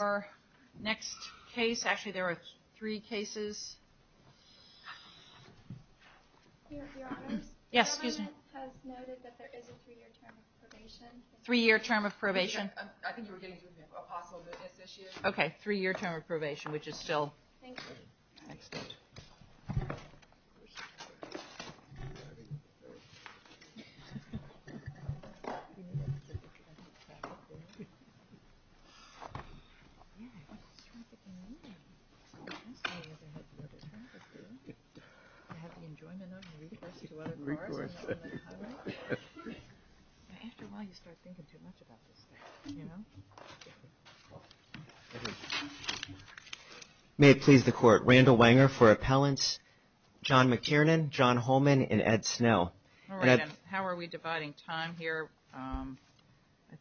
Our next case, actually there are three cases. Three-year term of probation. Okay, three-year term of probation, which is still... May it please the court, Randall Wanger for appellants, John McTiernan, John Holman, and Ed Snow. How are we dividing time here? I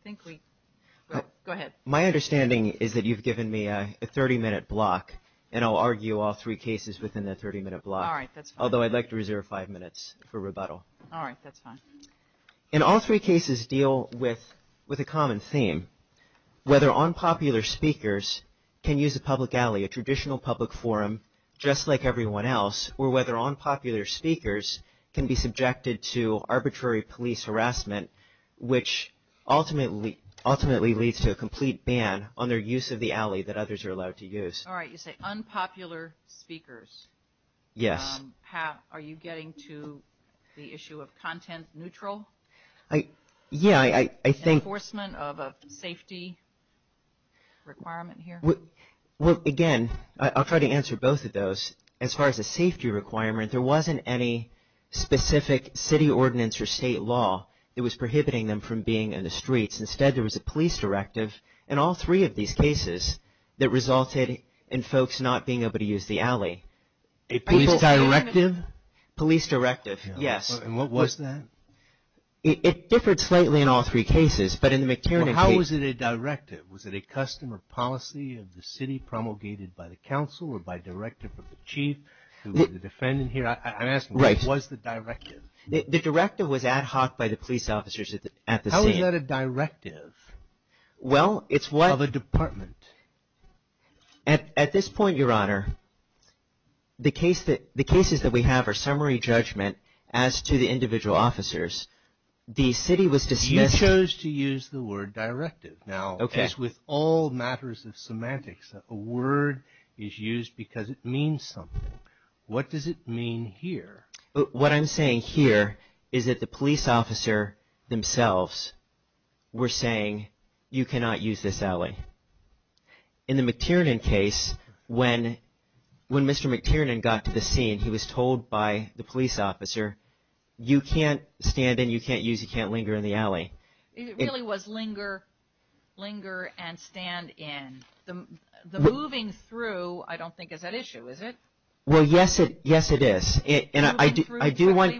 think we... Go ahead. My understanding is that you've given me a 30-minute block, and I'll argue all three cases within the 30-minute block. All right, that's fine. Although I'd like to reserve five minutes for rebuttal. All right, that's fine. And all three cases deal with a common theme, whether unpopular speakers can use a public alley, a traditional public forum, just like everyone else, or whether unpopular speakers can be subjected to arbitrary police harassment, which ultimately leads to a complete ban on their use of the alley that others are allowed to use. All right, you say unpopular speakers. Yes. Are you getting to the issue of content neutral? Yeah, I think... Enforcement of a safety requirement here? Well, again, I'll try to answer both of those. As far as a safety requirement, there wasn't any specific city ordinance or state law that was prohibiting them from being in the streets. Instead, there was a police directive in all three of these cases that resulted in folks not being able to use the alley. A police directive? Police directive, yes. And what was that? It differed slightly in all three cases, but in the McTiernan case... Was it a directive of the city promulgated by the council or by a directive of the chief who was the defendant here? I'm asking, what was the directive? The directive was ad hoc by the police officers at the scene. How is that a directive of a department? At this point, Your Honor, the cases that we have are summary judgment as to the individual officers. The city was dismissed... You chose to use the word directive. Now, as with all matters of semantics, a word is used because it means something. What does it mean here? What I'm saying here is that the police officer themselves were saying, you cannot use this alley. In the McTiernan case, when Mr. McTiernan got to the scene, he was told by the police officer, you can't stand in, you can't use, you can't linger in the alley. It really was linger and stand in. The moving through, I don't think, is at issue, is it? Well, yes, it is. And I do want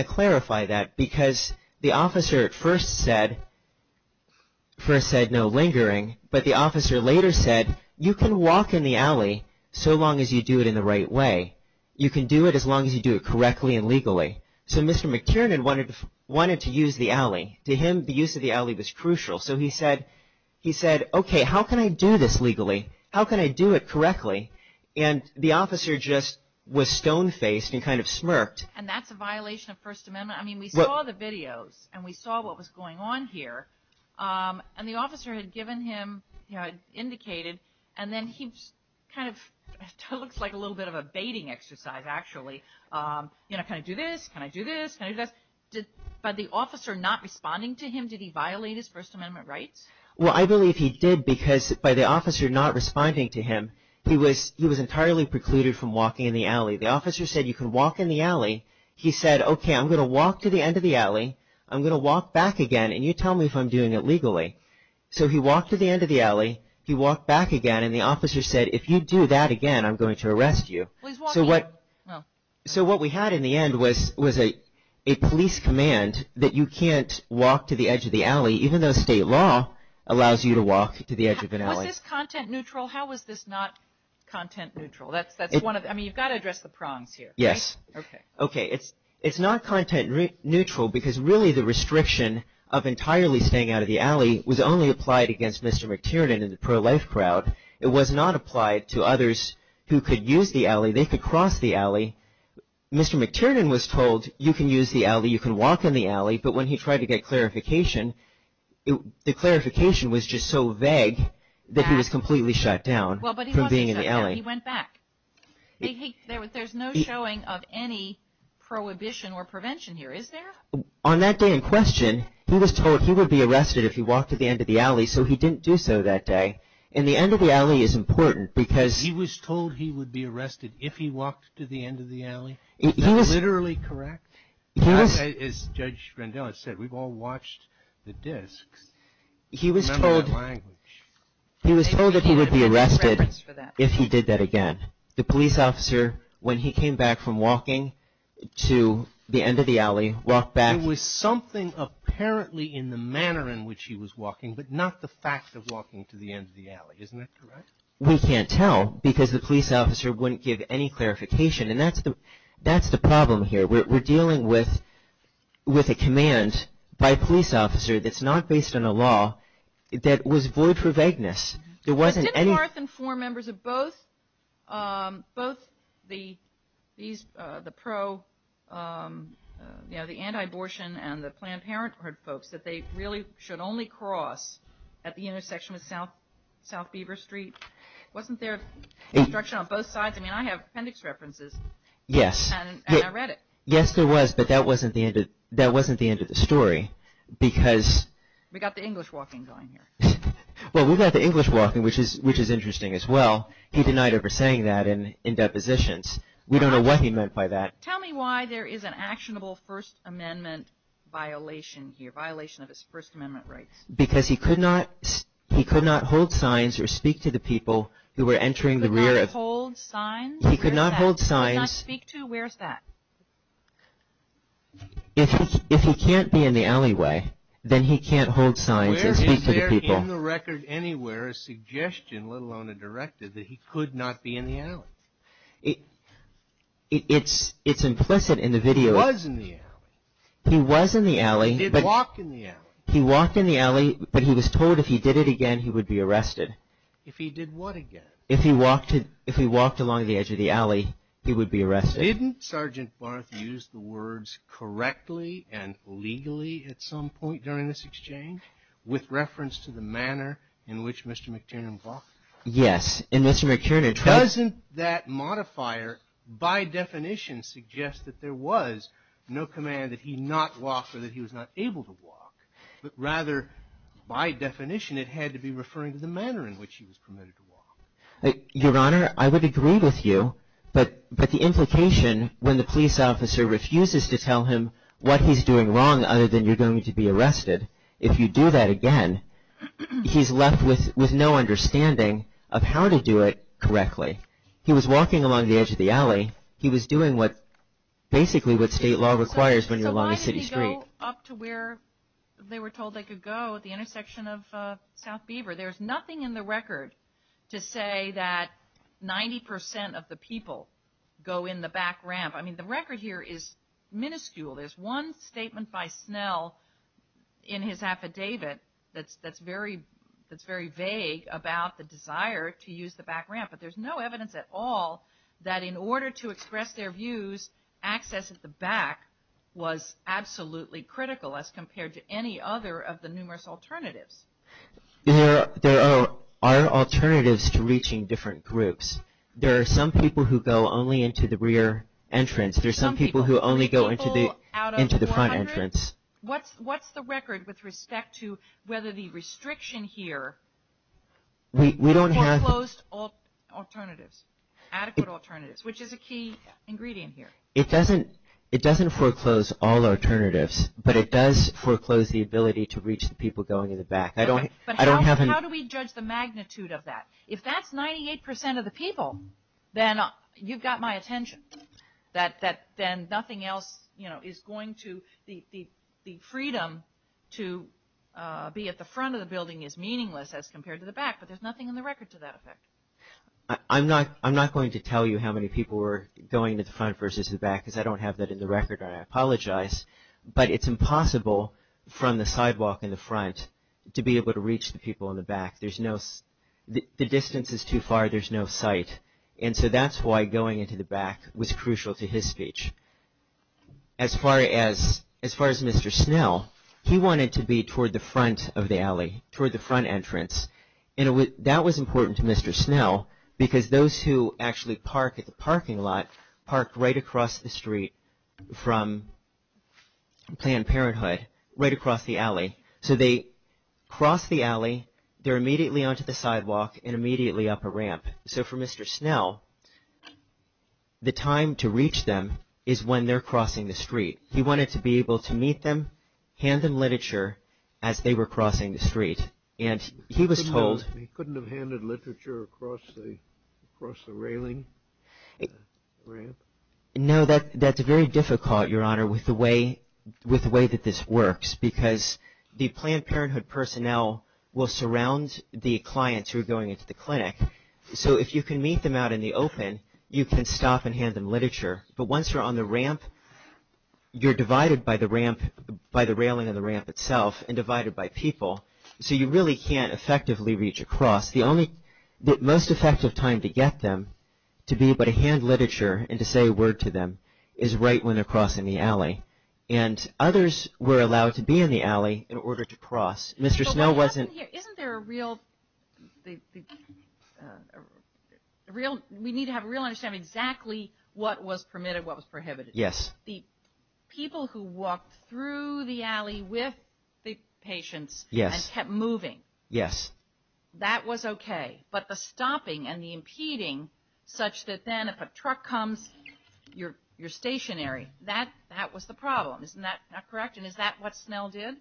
to clarify that because the officer at first said no lingering, but the officer later said, you can walk in the alley so long as you do it in the right way. You can do it as long as you do it correctly and legally. So, Mr. McTiernan wanted to use the alley. To him, the use of the alley was crucial. So, he said, okay, how can I do this legally? How can I do it correctly? And the officer just was stone-faced and kind of smirked. And that's a violation of First Amendment. I mean, we saw the videos and we saw what was going on here. And the officer had given him, indicated, and then he kind of looks like a little bit of a baiting exercise, actually. You know, can I do this? Can I do this? Can I do this? By the officer not responding to him, did he violate his First Amendment rights? Well, I believe he did because by the officer not responding to him, he was entirely precluded from walking in the alley. The officer said, you can walk in the alley. He said, okay, I'm going to walk to the end of the alley, I'm going to walk back again, and you tell me if I'm doing it legally. So, he walked to the end of the alley, he walked back again, and the officer said, if you do that again, I'm going to arrest you. So, what we had in the end was a police command that you can't walk to the edge of the alley, even though state law allows you to walk to the edge of an alley. Was this content neutral? How was this not content neutral? I mean, you've got to address the prongs here. Yes. Okay. It's not content neutral because really the restriction of entirely staying out of the alley was only applied against Mr. McTiernan and the pro-life crowd. It was not applied to others who could use the alley. They could cross the alley. Mr. McTiernan was told, you can use the alley, you can walk in the alley, but when he tried to get clarification, the clarification was just so vague that he was completely shut down from being in the alley. He went back. There's no showing of any prohibition or prevention here, is there? On that day in question, he was told he would be arrested if he walked to the end of the alley, so he didn't do so that day. And the end of the alley is important because he was told he would be arrested if he walked to the end of the alley. Is that literally correct? As Judge Rendell has said, we've all watched the discs. Remember that language. He was told that he would be arrested if he did that again. The police officer, when he came back from walking to the end of the alley, walked back. It was something apparently in the manner in which he was walking, but not the fact of walking to the end of the alley. Isn't that correct? We can't tell because the police officer wouldn't give any clarification, and that's the problem here. We're dealing with a command by a police officer that's not based on a law that was void for vagueness. There wasn't any – Didn't Barth inform members of both the anti-abortion and the Planned Parenthood folks that they really should only cross at the intersection of South Beaver Street? Wasn't there instruction on both sides? I mean, I have appendix references. Yes. And I read it. Yes, there was, but that wasn't the end of the story because – We got the English walking going here. Well, we got the English walking, which is interesting as well. He denied it for saying that in depositions. We don't know what he meant by that. Tell me why there is an actionable First Amendment violation here, violation of his First Amendment rights. Because he could not hold signs or speak to the people who were entering the rear of – He could not hold signs? He could not hold signs. He could not speak to? Where's that? If he can't be in the alleyway, then he can't hold signs and speak to the people. Where is there in the record anywhere a suggestion, let alone a directive, that he could not be in the alley? It's implicit in the video. He was in the alley. He was in the alley. He did walk in the alley. He walked in the alley, but he was told if he did it again, he would be arrested. If he did what again? If he walked along the edge of the alley, he would be arrested. Didn't Sergeant Barth use the words correctly and legally at some point during this exchange with reference to the manner in which Mr. McTiernan walked? Yes. Doesn't that modifier by definition suggest that there was no command that he not walk or that he was not able to walk? Rather, by definition, it had to be referring to the manner in which he was permitted to walk. Your Honor, I would agree with you, but the implication when the police officer refuses to tell him what he's doing wrong other than you're going to be arrested, if you do that again, he's left with no understanding of how to do it correctly. He was walking along the edge of the alley. He was doing basically what state law requires when you're along a city street. So why did he go up to where they were told they could go at the intersection of South Beaver? There's nothing in the record to say that 90% of the people go in the back ramp. I mean, the record here is minuscule. There's one statement by Snell in his affidavit that's very vague about the desire to use the back ramp, but there's no evidence at all that in order to express their views, access at the back was absolutely critical as compared to any other of the numerous alternatives. There are alternatives to reaching different groups. There are some people who go only into the rear entrance. There are some people who only go into the front entrance. What's the record with respect to whether the restriction here foreclosed alternatives, adequate alternatives, which is a key ingredient here? It doesn't foreclose all alternatives, but it does foreclose the ability to reach the people going in the back. How do we judge the magnitude of that? If that's 98% of the people, then you've got my attention, that then nothing else is going to the freedom to be at the front of the building is meaningless as compared to the back, but there's nothing in the record to that effect. I'm not going to tell you how many people were going to the front versus the back, because I don't have that in the record and I apologize, but it's impossible from the sidewalk in the front to be able to reach the people in the back. The distance is too far. There's no sight, and so that's why going into the back was crucial to his speech. As far as Mr. Snell, he wanted to be toward the front of the alley, toward the front entrance, and that was important to Mr. Snell because those who actually park at the parking lot parked right across the street from Planned Parenthood, right across the alley. So they cross the alley, they're immediately onto the sidewalk and immediately up a ramp. So for Mr. Snell, the time to reach them is when they're crossing the street. He wanted to be able to meet them, hand them literature as they were crossing the street, and he was told... He couldn't have handed literature across the railing, the ramp? No, that's very difficult, Your Honor, with the way that this works because the Planned Parenthood personnel will surround the clients who are going into the clinic. So if you can meet them out in the open, you can stop and hand them literature. But once you're on the ramp, you're divided by the ramp, by the railing of the ramp itself, and divided by people. So you really can't effectively reach across. The most effective time to get them to be able to hand literature and to say a word to them is right when they're crossing the alley. And others were allowed to be in the alley in order to cross. Mr. Snell wasn't... Isn't there a real... We need to have a real understanding of exactly what was permitted, what was prohibited. Yes. The people who walked through the alley with the patients and kept moving. Yes. That was okay. But the stopping and the impeding such that then if a truck comes, you're stationary. That was the problem. Isn't that correct? And is that what Snell did?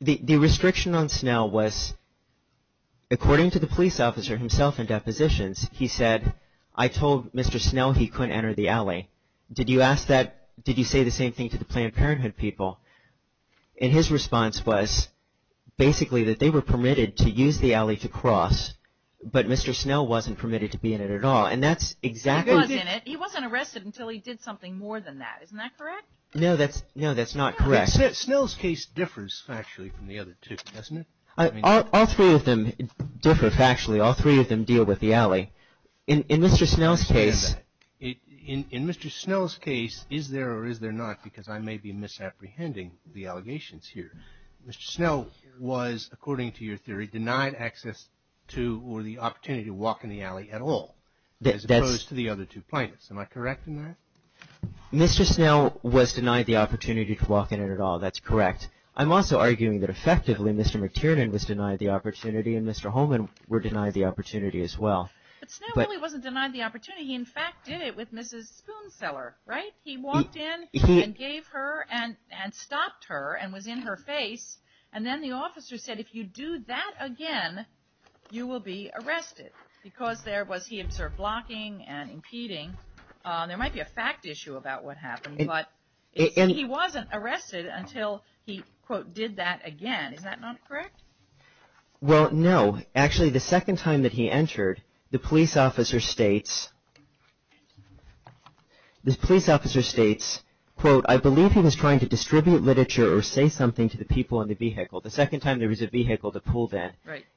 The restriction on Snell was, according to the police officer himself in depositions, he said, I told Mr. Snell he couldn't enter the alley. Did you ask that? Did you say the same thing to the Planned Parenthood people? And his response was basically that they were permitted to use the alley to cross, but Mr. Snell wasn't permitted to be in it at all. And that's exactly... He was in it. No, that's not correct. Snell's case differs factually from the other two, doesn't it? All three of them differ factually. All three of them deal with the alley. In Mr. Snell's case... In Mr. Snell's case, is there or is there not, because I may be misapprehending the allegations here, Mr. Snell was, according to your theory, denied access to or the opportunity to walk in the alley at all as opposed to the other two plaintiffs. Am I correct in that? Mr. Snell was denied the opportunity to walk in it at all. That's correct. I'm also arguing that effectively Mr. McTiernan was denied the opportunity and Mr. Holman was denied the opportunity as well. But Snell really wasn't denied the opportunity. He, in fact, did it with Mrs. Spoonseller, right? He walked in and gave her and stopped her and was in her face, and then the officer said, if you do that again, you will be arrested, because there was, he observed, blocking and impeding. There might be a fact issue about what happened, but he wasn't arrested until he, quote, did that again. Is that not correct? Well, no. Actually, the second time that he entered, the police officer states, the police officer states, quote, I believe he was trying to distribute literature or say something to the people in the vehicle. The second time there was a vehicle that pulled in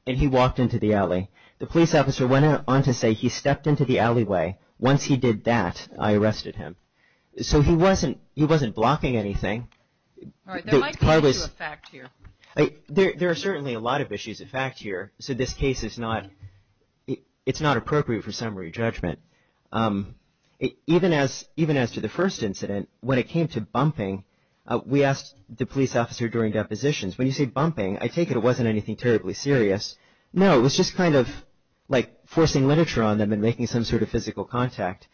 and he walked into the alley. The police officer went on to say he stepped into the alleyway. Once he did that, I arrested him. So he wasn't, he wasn't blocking anything. There might be a fact here. There are certainly a lot of issues of fact here. So this case is not, it's not appropriate for summary judgment. Even as, even as to the first incident, when it came to bumping, we asked the police officer during depositions, when you say bumping, I take it it wasn't anything terribly serious. No, it was just kind of like forcing literature on them and making some sort of physical contact.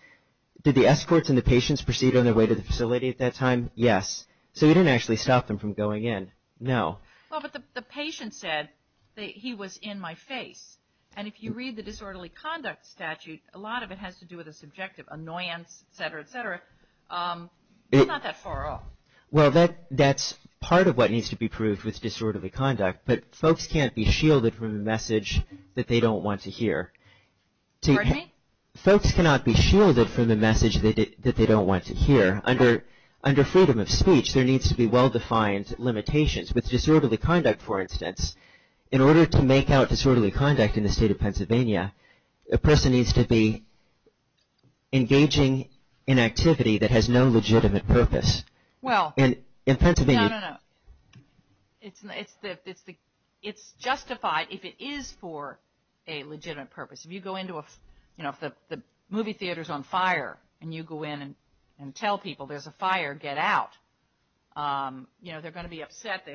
Did the escorts and the patients proceed on their way to the facility at that time? Yes. So we didn't actually stop them from going in. No. Well, but the patient said that he was in my face. And if you read the disorderly conduct statute, a lot of it has to do with a subjective annoyance, et cetera, et cetera. It's not that far off. Well, that's part of what needs to be proved with disorderly conduct. But folks can't be shielded from a message that they don't want to hear. Pardon me? Folks cannot be shielded from a message that they don't want to hear. Under freedom of speech, there needs to be well-defined limitations. With disorderly conduct, for instance, in order to make out disorderly conduct in the state of Pennsylvania, a person needs to be engaging in activity that has no legitimate purpose. Well, no, no, no. It's justified if it is for a legitimate purpose. If you go into a, you know, if the movie theater is on fire and you go in and tell people there's a fire, get out. You know, they're going to be upset.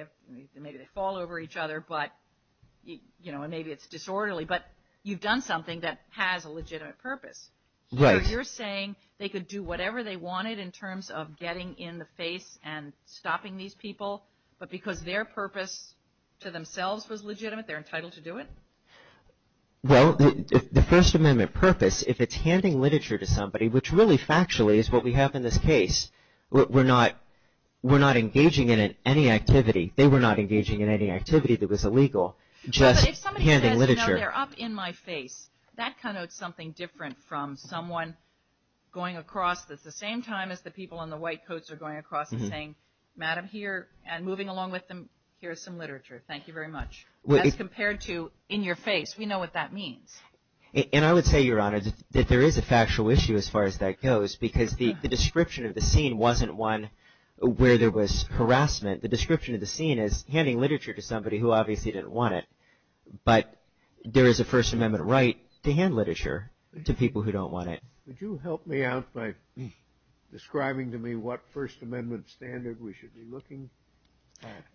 Maybe they fall over each other, but, you know, and maybe it's disorderly. But you've done something that has a legitimate purpose. Right. You're saying they could do whatever they wanted in terms of getting in the face and stopping these people, but because their purpose to themselves was legitimate, they're entitled to do it? Well, the First Amendment purpose, if it's handing literature to somebody, which really factually is what we have in this case, we're not engaging in any activity. They were not engaging in any activity that was illegal, just handing literature. No, but if somebody says, you know, they're up in my face, that connotes something different from someone going across at the same time as the people in the white coats are going across and saying, Madam, here, and moving along with them, here's some literature. Thank you very much. As compared to in your face. We know what that means. And I would say, Your Honor, that there is a factual issue as far as that goes because the description of the scene wasn't one where there was harassment. The description of the scene is handing literature to somebody who obviously didn't want it, but there is a First Amendment right to hand literature to people who don't want it. Would you help me out by describing to me what First Amendment standard we should be looking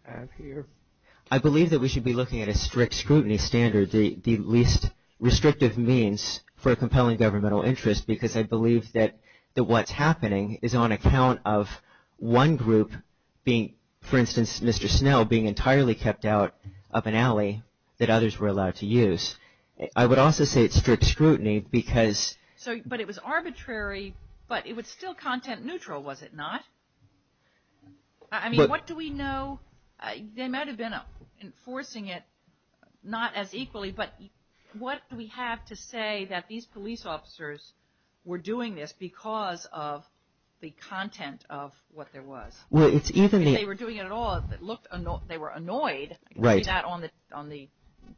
at here? I believe that we should be looking at a strict scrutiny standard, the least restrictive means for a compelling governmental interest, because I believe that what's happening is on account of one group being, for instance, Mr. Snell being entirely kept out of an alley that others were allowed to use. I would also say it's strict scrutiny because. But it was arbitrary, but it was still content neutral, was it not? I mean, what do we know? They might have been enforcing it not as equally, but what do we have to say that these police officers were doing this because of the content of what there was? Well, it's even. If they were doing it at all, they were annoyed. I can see that on the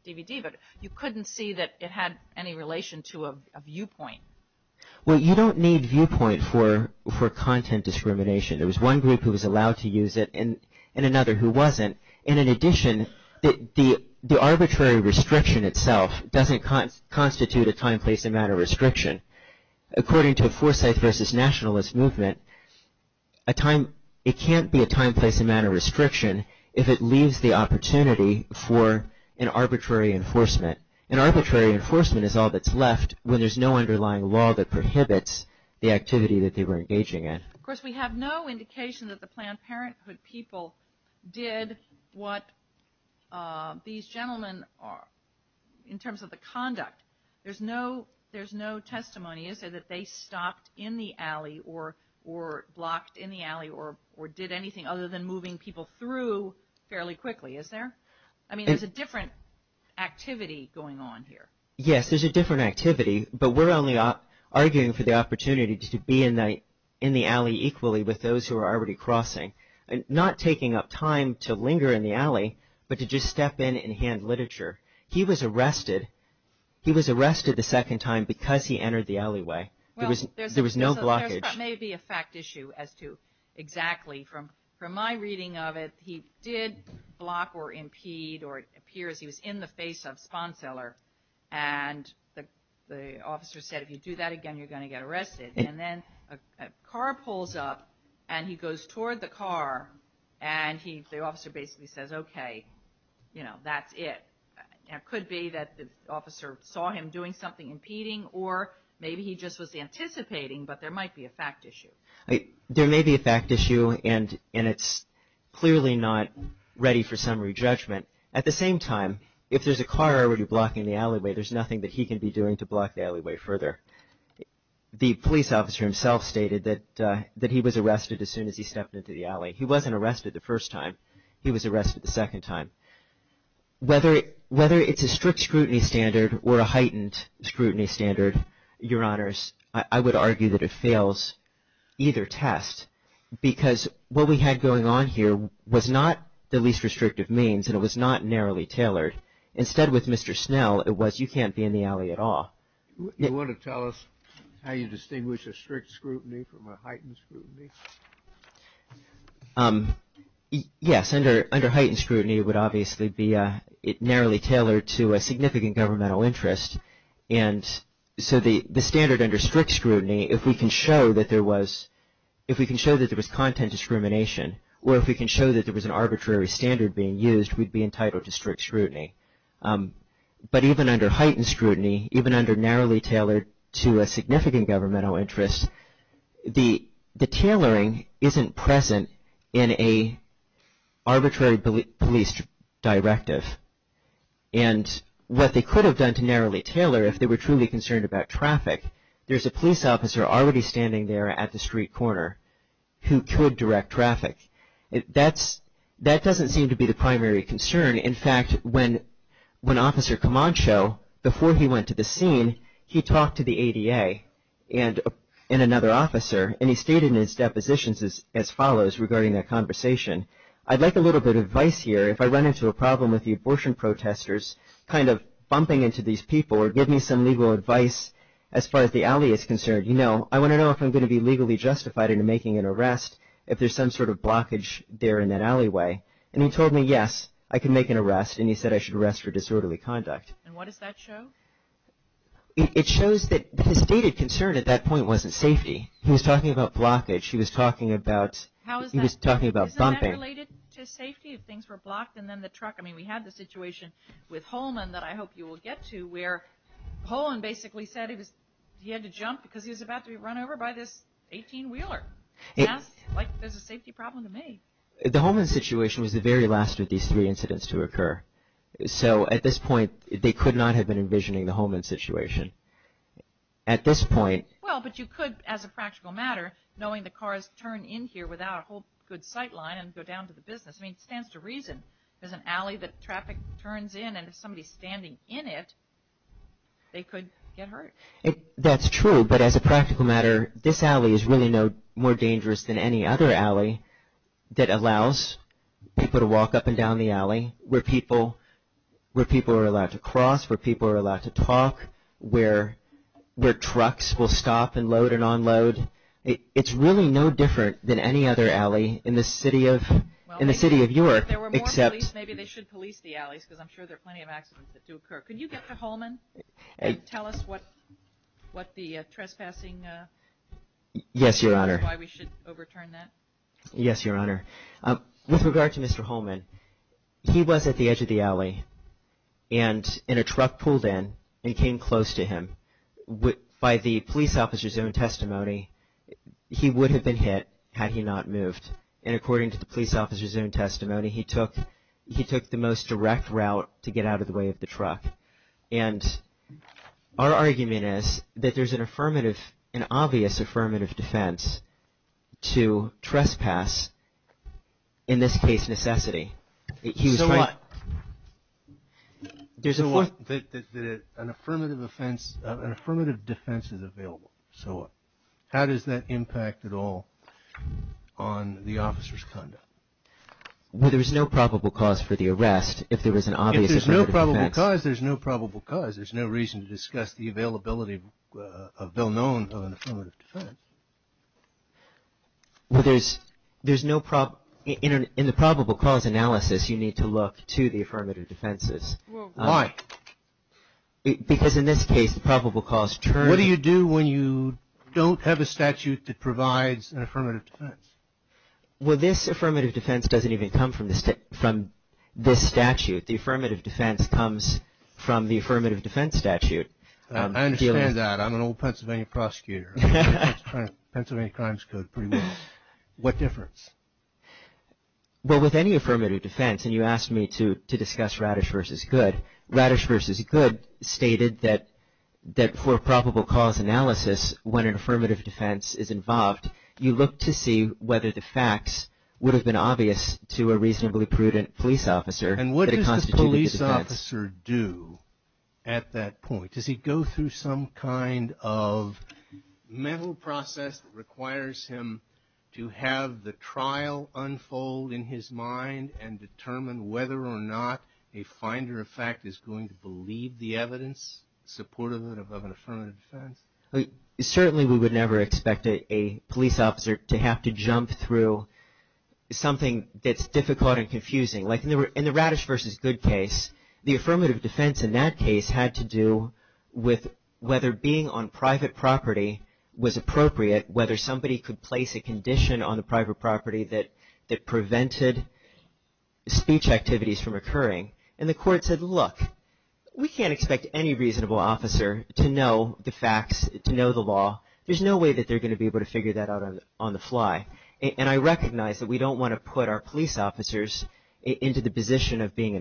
DVD, but you couldn't see that it had any relation to a viewpoint. Well, you don't need viewpoint for content discrimination. There was one group who was allowed to use it and another who wasn't. And in addition, the arbitrary restriction itself doesn't constitute a time, place, and matter restriction. According to a foresight versus nationalist movement, it can't be a time, place, and matter restriction if it leaves the opportunity for an arbitrary enforcement. And arbitrary enforcement is all that's left when there's no underlying law that prohibits the activity that they were engaging in. Of course, we have no indication that the Planned Parenthood people did what these gentlemen, in terms of the conduct. There's no testimony, is there, that they stopped in the alley or blocked in the alley or did anything other than moving people through fairly quickly, is there? I mean, there's a different activity going on here. Yes, there's a different activity, but we're only arguing for the opportunity to be in the alley equally with those who are already crossing. Not taking up time to linger in the alley, but to just step in and hand literature. He was arrested. He was arrested the second time because he entered the alleyway. There was no blockage. Well, there may be a fact issue as to exactly. From my reading of it, he did block or impede or it appears he was in the face of Sponseller. And the officer said, if you do that again, you're going to get arrested. And then a car pulls up and he goes toward the car and the officer basically says, okay, you know, that's it. It could be that the officer saw him doing something impeding or maybe he just was anticipating, but there might be a fact issue. There may be a fact issue and it's clearly not ready for summary judgment. At the same time, if there's a car already blocking the alleyway, there's nothing that he can be doing to block the alleyway further. The police officer himself stated that he was arrested as soon as he stepped into the alley. He wasn't arrested the first time. He was arrested the second time. Whether it's a strict scrutiny standard or a heightened scrutiny standard, Your Honors, I would argue that it fails either test because what we had going on here was not the least restrictive means and it was not narrowly tailored. Instead, with Mr. Snell, it was you can't be in the alley at all. You want to tell us how you distinguish a strict scrutiny from a heightened scrutiny? Yes. Under heightened scrutiny, it would obviously be narrowly tailored to a significant governmental interest. And so the standard under strict scrutiny, if we can show that there was content discrimination or if we can show that there was an arbitrary standard being used, we'd be entitled to strict scrutiny. But even under heightened scrutiny, even under narrowly tailored to a significant governmental interest, the tailoring isn't present in an arbitrary police directive. And what they could have done to narrowly tailor if they were truly concerned about traffic, there's a police officer already standing there at the street corner who could direct traffic. That doesn't seem to be the primary concern. In fact, when Officer Camacho, before he went to the scene, he talked to the ADA and another officer, and he stated in his depositions as follows regarding that conversation, I'd like a little bit of advice here if I run into a problem with the abortion protesters kind of bumping into these people or give me some legal advice as far as the alley is concerned. You know, I want to know if I'm going to be legally justified in making an arrest if there's some sort of blockage there in that alleyway. And he told me, yes, I can make an arrest, and he said I should arrest for disorderly conduct. And what does that show? It shows that his stated concern at that point wasn't safety. He was talking about blockage. He was talking about bumping. Isn't that related to safety if things were blocked and then the truck? I mean, we had the situation with Holman that I hope you will get to where Holman basically said he had to jump because he was about to be run over by this 18-wheeler. It's like there's a safety problem to me. The Holman situation was the very last of these three incidents to occur. So, at this point, they could not have been envisioning the Holman situation. At this point... Well, but you could, as a practical matter, knowing the cars turn in here without a whole good sight line and go down to the business. I mean, it stands to reason there's an alley that traffic turns in, and if somebody's standing in it, they could get hurt. That's true, but as a practical matter, this alley is really no more dangerous than any other alley that allows people to walk up and down the alley where people are allowed to cross, where people are allowed to talk, where trucks will stop and load and unload. It's really no different than any other alley in the city of York, except... Well, if there were more police, maybe they should police the alleys because I'm sure there are plenty of accidents that do occur. Can you get to Holman and tell us what the trespassing... Yes, Your Honor. ...and why we should overturn that? Yes, Your Honor. With regard to Mr. Holman, he was at the edge of the alley, and a truck pulled in and came close to him. By the police officer's own testimony, he would have been hit had he not moved, and according to the police officer's own testimony, he took the most direct route to get out of the way of the truck. And our argument is that there's an obvious affirmative defense to trespass, in this case necessity. So what? There's a... So what? An affirmative defense is available. So what? How does that impact at all on the officer's conduct? Well, there's no probable cause for the arrest if there was an obvious affirmative defense. If there's no probable cause, there's no probable cause. There's no reason to discuss the availability of a bill known of an affirmative defense. Well, there's no... In the probable cause analysis, you need to look to the affirmative defenses. Why? Because in this case, the probable cause turns... What do you do when you don't have a statute that provides an affirmative defense? Well, this affirmative defense doesn't even come from this statute. The affirmative defense comes from the affirmative defense statute. I understand that. I'm an old Pennsylvania prosecutor. Pennsylvania Crimes Code pretty well. What difference? Well, with any affirmative defense, and you asked me to discuss Radish v. Goode, Radish v. Goode stated that for probable cause analysis, when an affirmative defense is involved, you look to see whether the facts would have been obvious to a reasonably prudent police officer... And what does the police officer do at that point? Does he go through some kind of mental process that requires him to have the trial unfold in his mind and determine whether or not a finder of fact is going to believe the evidence supportive of an affirmative defense? Certainly, we would never expect a police officer to have to jump through something that's difficult and confusing. Like in the Radish v. Goode case, the affirmative defense in that case had to do with whether being on private property was appropriate, whether somebody could place a condition on the private property that prevented speech activities from occurring. And the court said, look, we can't expect any reasonable officer to know the facts, to know the law. There's no way that they're going to be able to figure that out on the fly. And I recognize that we don't want to put our police officers into the position of being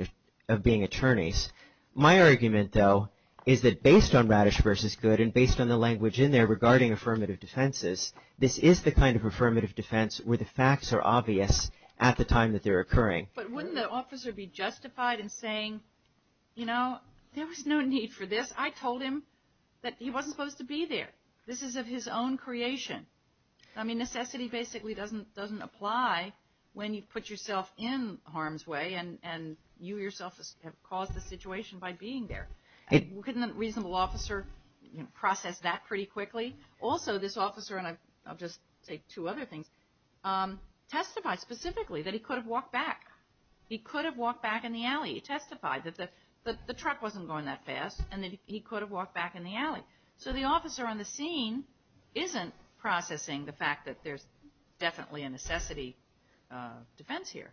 attorneys. My argument, though, is that based on Radish v. Goode and based on the language in there regarding affirmative defenses, this is the kind of affirmative defense where the facts are obvious at the time that they're occurring. But wouldn't the officer be justified in saying, you know, there was no need for this. I told him that he wasn't supposed to be there. This is of his own creation. I mean, necessity basically doesn't apply when you put yourself in harm's way and you yourself have caused the situation by being there. Couldn't a reasonable officer process that pretty quickly? Also, this officer, and I'll just say two other things, testified specifically that he could have walked back. He could have walked back in the alley. He testified that the truck wasn't going that fast and that he could have walked back in the alley. So the officer on the scene isn't processing the fact that there's definitely a necessity defense here.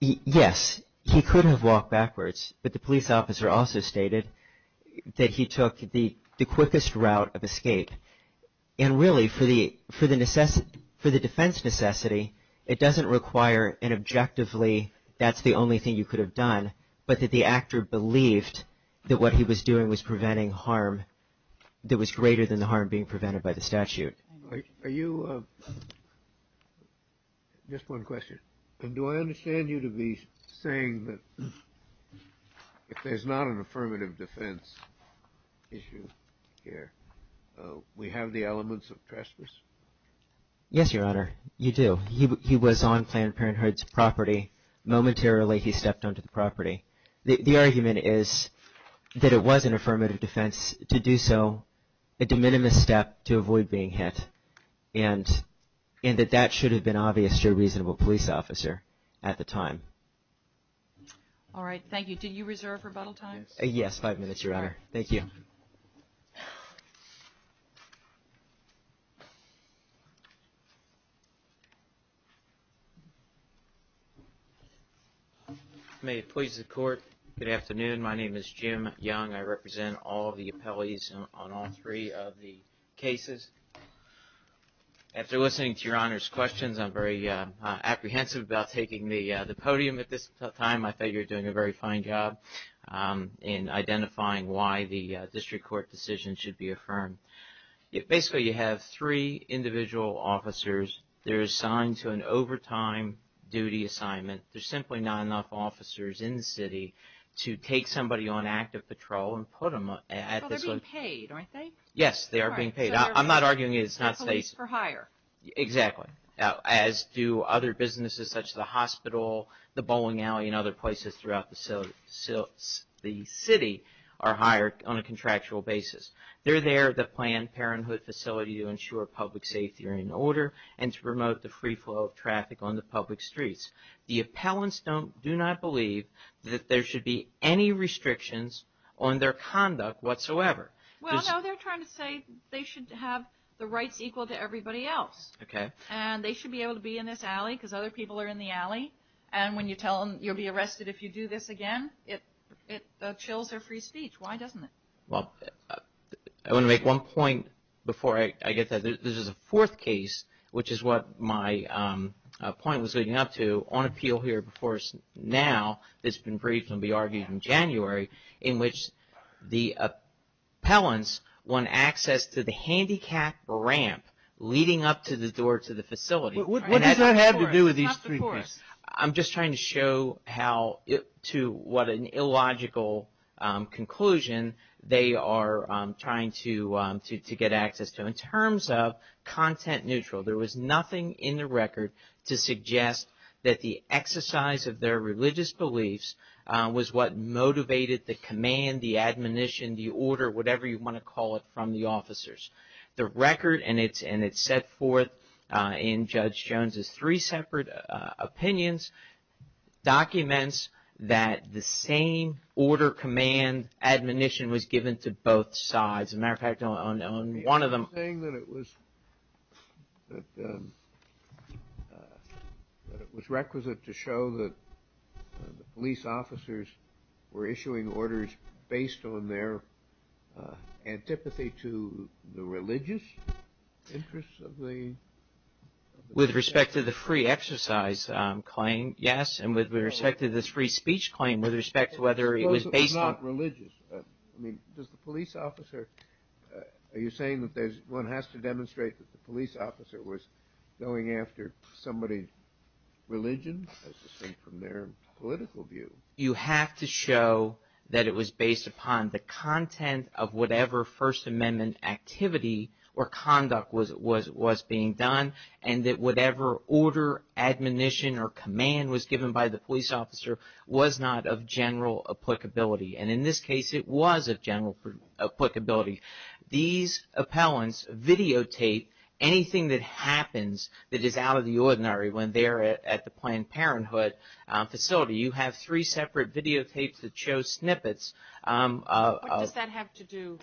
Yes. He could have walked backwards, but the police officer also stated that he took the quickest route of escape. And really, for the defense necessity, it doesn't require an objectively that's the only thing you could have done, but that the actor believed that what he was doing was preventing harm that was greater than the harm being prevented by the statute. Are you, just one question. And do I understand you to be saying that if there's not an affirmative defense issue here, we have the elements of trespass? Yes, Your Honor. You do. He was on Planned Parenthood's property. Momentarily, he stepped onto the property. The argument is that it was an affirmative defense to do so, a de minimis step to avoid being hit, and that that should have been obvious to a reasonable police officer at the time. All right. Thank you. Do you reserve rebuttal time? Yes, five minutes, Your Honor. Thank you. May it please the Court, good afternoon. My name is Jim Young. I represent all the appellees on all three of the cases. After listening to Your Honor's questions, I'm very apprehensive about taking the podium at this time. I thought you were doing a very fine job in identifying why the district court decision should be affirmed. Basically, you have three individual officers. They're assigned to an overtime duty assignment. There's simply not enough officers in the city to take somebody on active patrol and put them at this one. Well, they're being paid, aren't they? Yes, they are being paid. I'm not arguing it's not safe. Police for hire. Exactly. As do other businesses such as the hospital, the bowling alley, and other places throughout the city are hired on a contractual basis. They're there to plan parenthood facility to ensure public safety and order and to promote the free flow of traffic on the public streets. The appellants do not believe that there should be any restrictions on their conduct whatsoever. Well, no, they're trying to say they should have the rights equal to everybody else. Okay. And they should be able to be in this alley because other people are in the alley. And when you tell them you'll be arrested if you do this again, it chills their free speech. Why doesn't it? Well, I want to make one point before I get that. This is a fourth case, which is what my point was leading up to on appeal here before now. It's been briefed and will be argued in January, in which the appellants want access to the handicapped ramp leading up to the door to the facility. What does that have to do with these three cases? I'm just trying to show how to what an illogical conclusion they are trying to get access to. In terms of content neutral, there was nothing in the record to suggest that the exercise of their religious beliefs was what motivated the command, the admonition, the order, whatever you want to call it, from the officers. The record, and it's set forth in Judge Jones' three separate opinions, documents that the same order, command, admonition was given to both sides. As a matter of fact, on one of them- You're saying that it was requisite to show that the police officers were issuing orders based on their antipathy to the religious interests of the- With respect to the free exercise claim, yes, and with respect to this free speech claim, with respect to whether it was based on- Does the police officer- Are you saying that one has to demonstrate that the police officer was going after somebody's religion? I just think from their political view. You have to show that it was based upon the content of whatever First Amendment activity or conduct was being done and that whatever order, admonition, or command was given by the police officer was not of general applicability. And in this case, it was of general applicability. These appellants videotape anything that happens that is out of the ordinary when they're at the Planned Parenthood facility. You have three separate videotapes that show snippets of- What does that have to do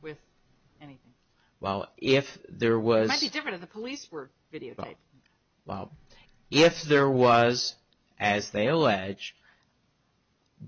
with anything? Well, if there was- It might be different if the police were videotaped. Well, if there was, as they allege,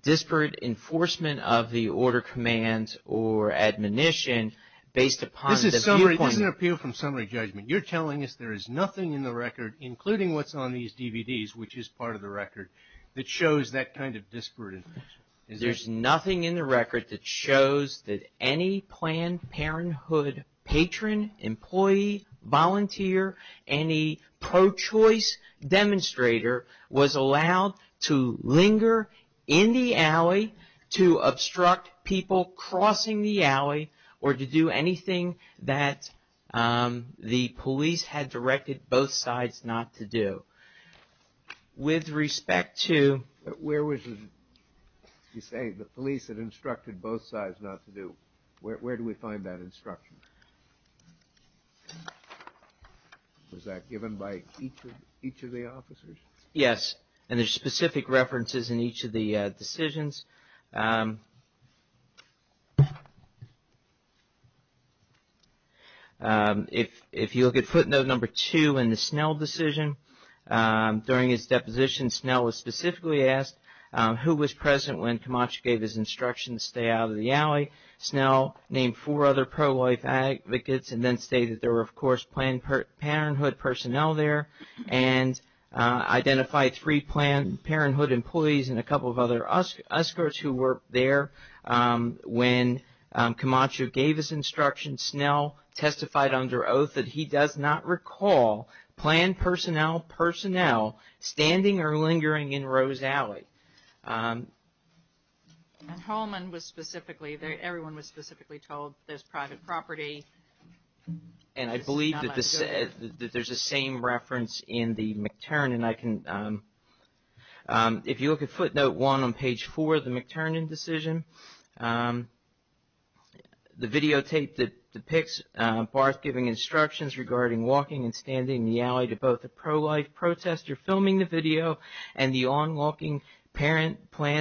disparate enforcement of the order, command, or admonition based upon the viewpoint- This is an appeal from summary judgment. You're telling us there is nothing in the record, including what's on these DVDs, which is part of the record, that shows that kind of disparate enforcement. There's nothing in the record that shows that any Planned Parenthood patron, employee, volunteer, any pro-choice demonstrator was allowed to linger in the alley to obstruct people crossing the alley or to do anything that the police had directed both sides not to do. With respect to- Where was the- You say the police had instructed both sides not to do. Where do we find that instruction? Was that given by each of the officers? Yes, and there's specific references in each of the decisions. If you look at footnote number two in the Snell decision, during his deposition, Snell was specifically asked who was present when Camacho gave his instructions to stay out of the alley. Snell named four other pro-life advocates and then stated there were, of course, Planned Parenthood personnel there and identified three Planned Parenthood employees and a couple of other escorts who were there. When Camacho gave his instructions, Snell testified under oath that he does not recall Planned Personnel personnel standing or lingering in Rose Alley. And Holman was specifically- Everyone was specifically told there's private property. And I believe that there's the same reference in the McTernan. If you look at footnote one on page four of the McTernan decision, the videotape that depicts Barth giving instructions regarding walking and standing in the alley to both the pro-life protester filming the video and the on-walking Planned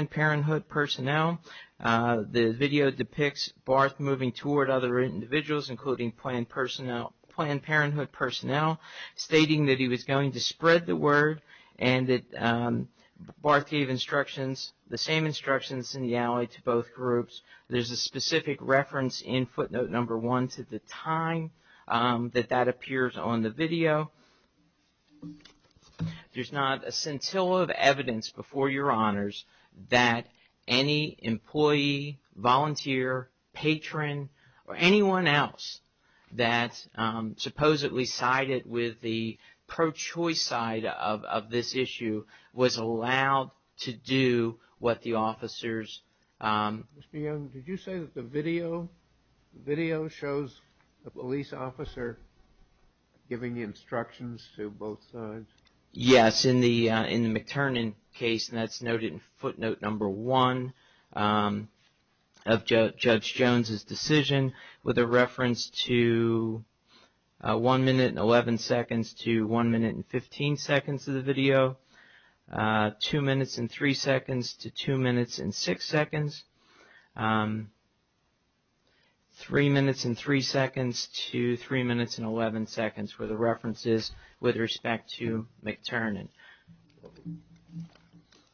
Parenthood personnel, the video depicts Barth moving toward other individuals, including Planned Parenthood personnel, stating that he was going to spread the word and that Barth gave the same instructions in the alley to both groups. There's a specific reference in footnote number one to the time that that appears on the video. There's not a scintilla of evidence before your honors that any employee, volunteer, patron, or anyone else that supposedly sided with the pro-choice side of this issue was allowed to do what the officers- Mr. Young, did you say that the video shows a police officer giving instructions to both sides? Yes, in the McTernan case, and that's noted in footnote number one of Judge Jones's decision with a reference to one minute and 11 seconds to one minute and 15 seconds of the video, two minutes and three seconds to two minutes and six seconds, three minutes and three seconds to three minutes and 11 seconds, where the reference is with respect to McTernan.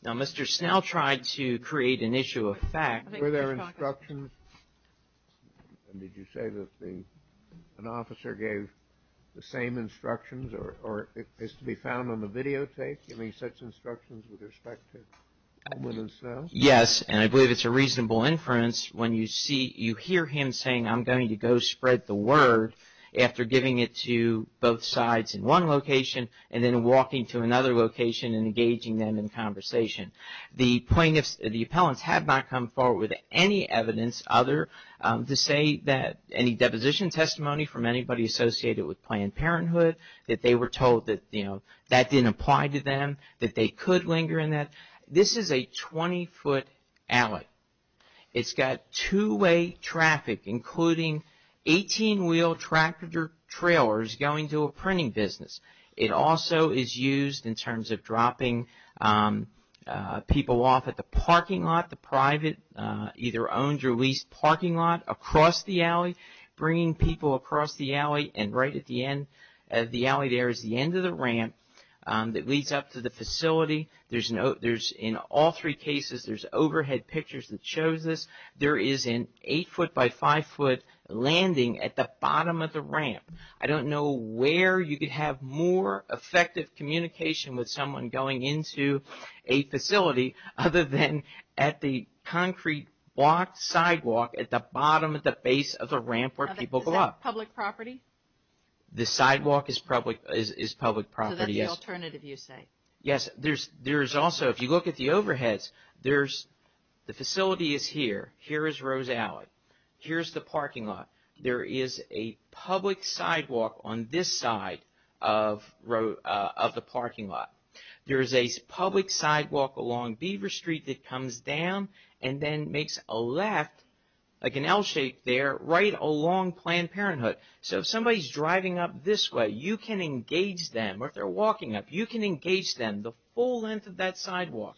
Now, Mr. Snell tried to create an issue of fact- Were there instructions, and did you say that an officer gave the same instructions or is to be found on the videotape, giving such instructions with respect to Coleman and Snell? Yes, and I believe it's a reasonable inference when you hear him saying, I'm going to go spread the word after giving it to both sides in one location and then walking to another location and engaging them in conversation. The plaintiffs, the appellants have not come forward with any evidence other to say that any deposition testimony from anybody associated with Planned Parenthood, that they were told that, you know, that didn't apply to them, that they could linger in that. This is a 20-foot alley. It's got two-way traffic, including 18-wheel tractor trailers going to a printing business. It also is used in terms of dropping people off at the parking lot, the private, either owned or leased parking lot across the alley, bringing people across the alley and right at the end of the alley there is the end of the ramp that leads up to the facility. In all three cases, there's overhead pictures that shows this. There is an 8-foot by 5-foot landing at the bottom of the ramp. I don't know where you could have more effective communication with someone going into a facility other than at the concrete block sidewalk at the bottom of the base of the ramp where people go up. Is that public property? The sidewalk is public property, yes. So that's the alternative, you say? Yes. There's also, if you look at the overheads, the facility is here. Here is Rose Alley. Here's the parking lot. There is a public sidewalk on this side of the parking lot. There is a public sidewalk along Beaver Street that comes down and then makes a left, like an L-shape there, right along Planned Parenthood. So if somebody's driving up this way, you can engage them. Or if they're walking up, you can engage them the full length of that sidewalk,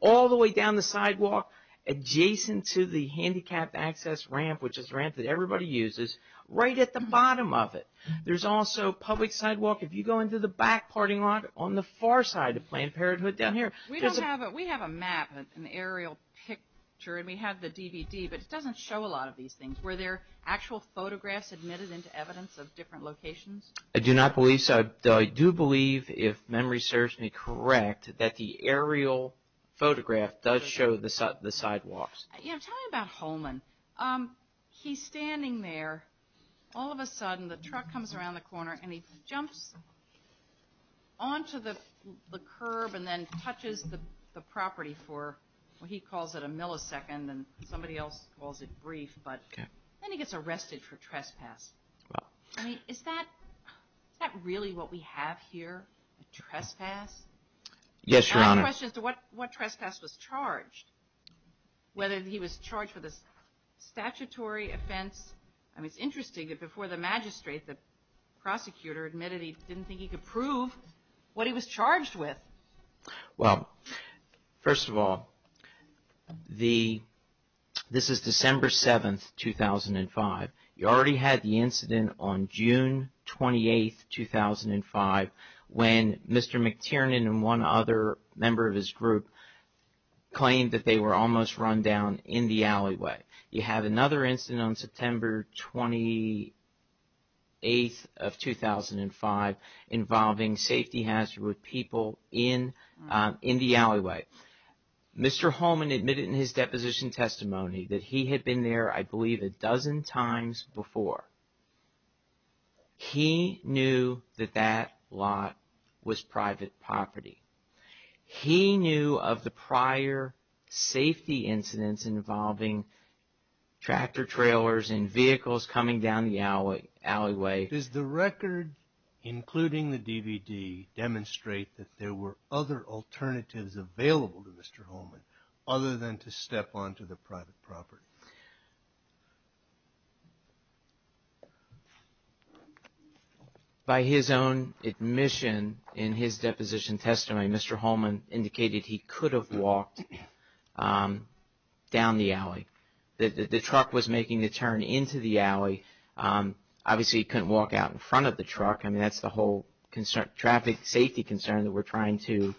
all the way down the sidewalk adjacent to the handicapped access ramp, which is the ramp that everybody uses, right at the bottom of it. There's also a public sidewalk, if you go into the back parking lot, on the far side of Planned Parenthood down here. We have a map, an aerial picture, and we have the DVD, but it doesn't show a lot of these things. Were there actual photographs admitted into evidence of different locations? I do not believe so. I do believe, if memory serves me correct, that the aerial photograph does show the sidewalks. Tell me about Holman. He's standing there. All of a sudden, the truck comes around the corner, and he jumps onto the curb and then touches the property for what he calls it a millisecond, and somebody else calls it brief. Then he gets arrested for trespass. Is that really what we have here, a trespass? Yes, Your Honor. I have a question as to what trespass was charged, whether he was charged with a statutory offense. It's interesting that before the magistrate, the prosecutor admitted he didn't think he could prove what he was charged with. Well, first of all, this is December 7, 2005. You already had the incident on June 28, 2005 when Mr. McTiernan and one other member of his group claimed that they were almost run down in the alleyway. You have another incident on September 28, 2005 involving safety hazard with people in the alleyway. Mr. Holman admitted in his deposition testimony that he had been there, I believe, a dozen times before. He knew that that lot was private property. He knew of the prior safety incidents involving tractor trailers and vehicles coming down the alleyway. Does the record, including the DVD, demonstrate that there were other alternatives available to Mr. Holman other than to step onto the private property? By his own admission in his deposition testimony, Mr. Holman indicated he could have walked down the alley. The truck was making the turn into the alley. Obviously, he couldn't walk out in front of the truck. I mean, that's the whole traffic safety concern that we're trying to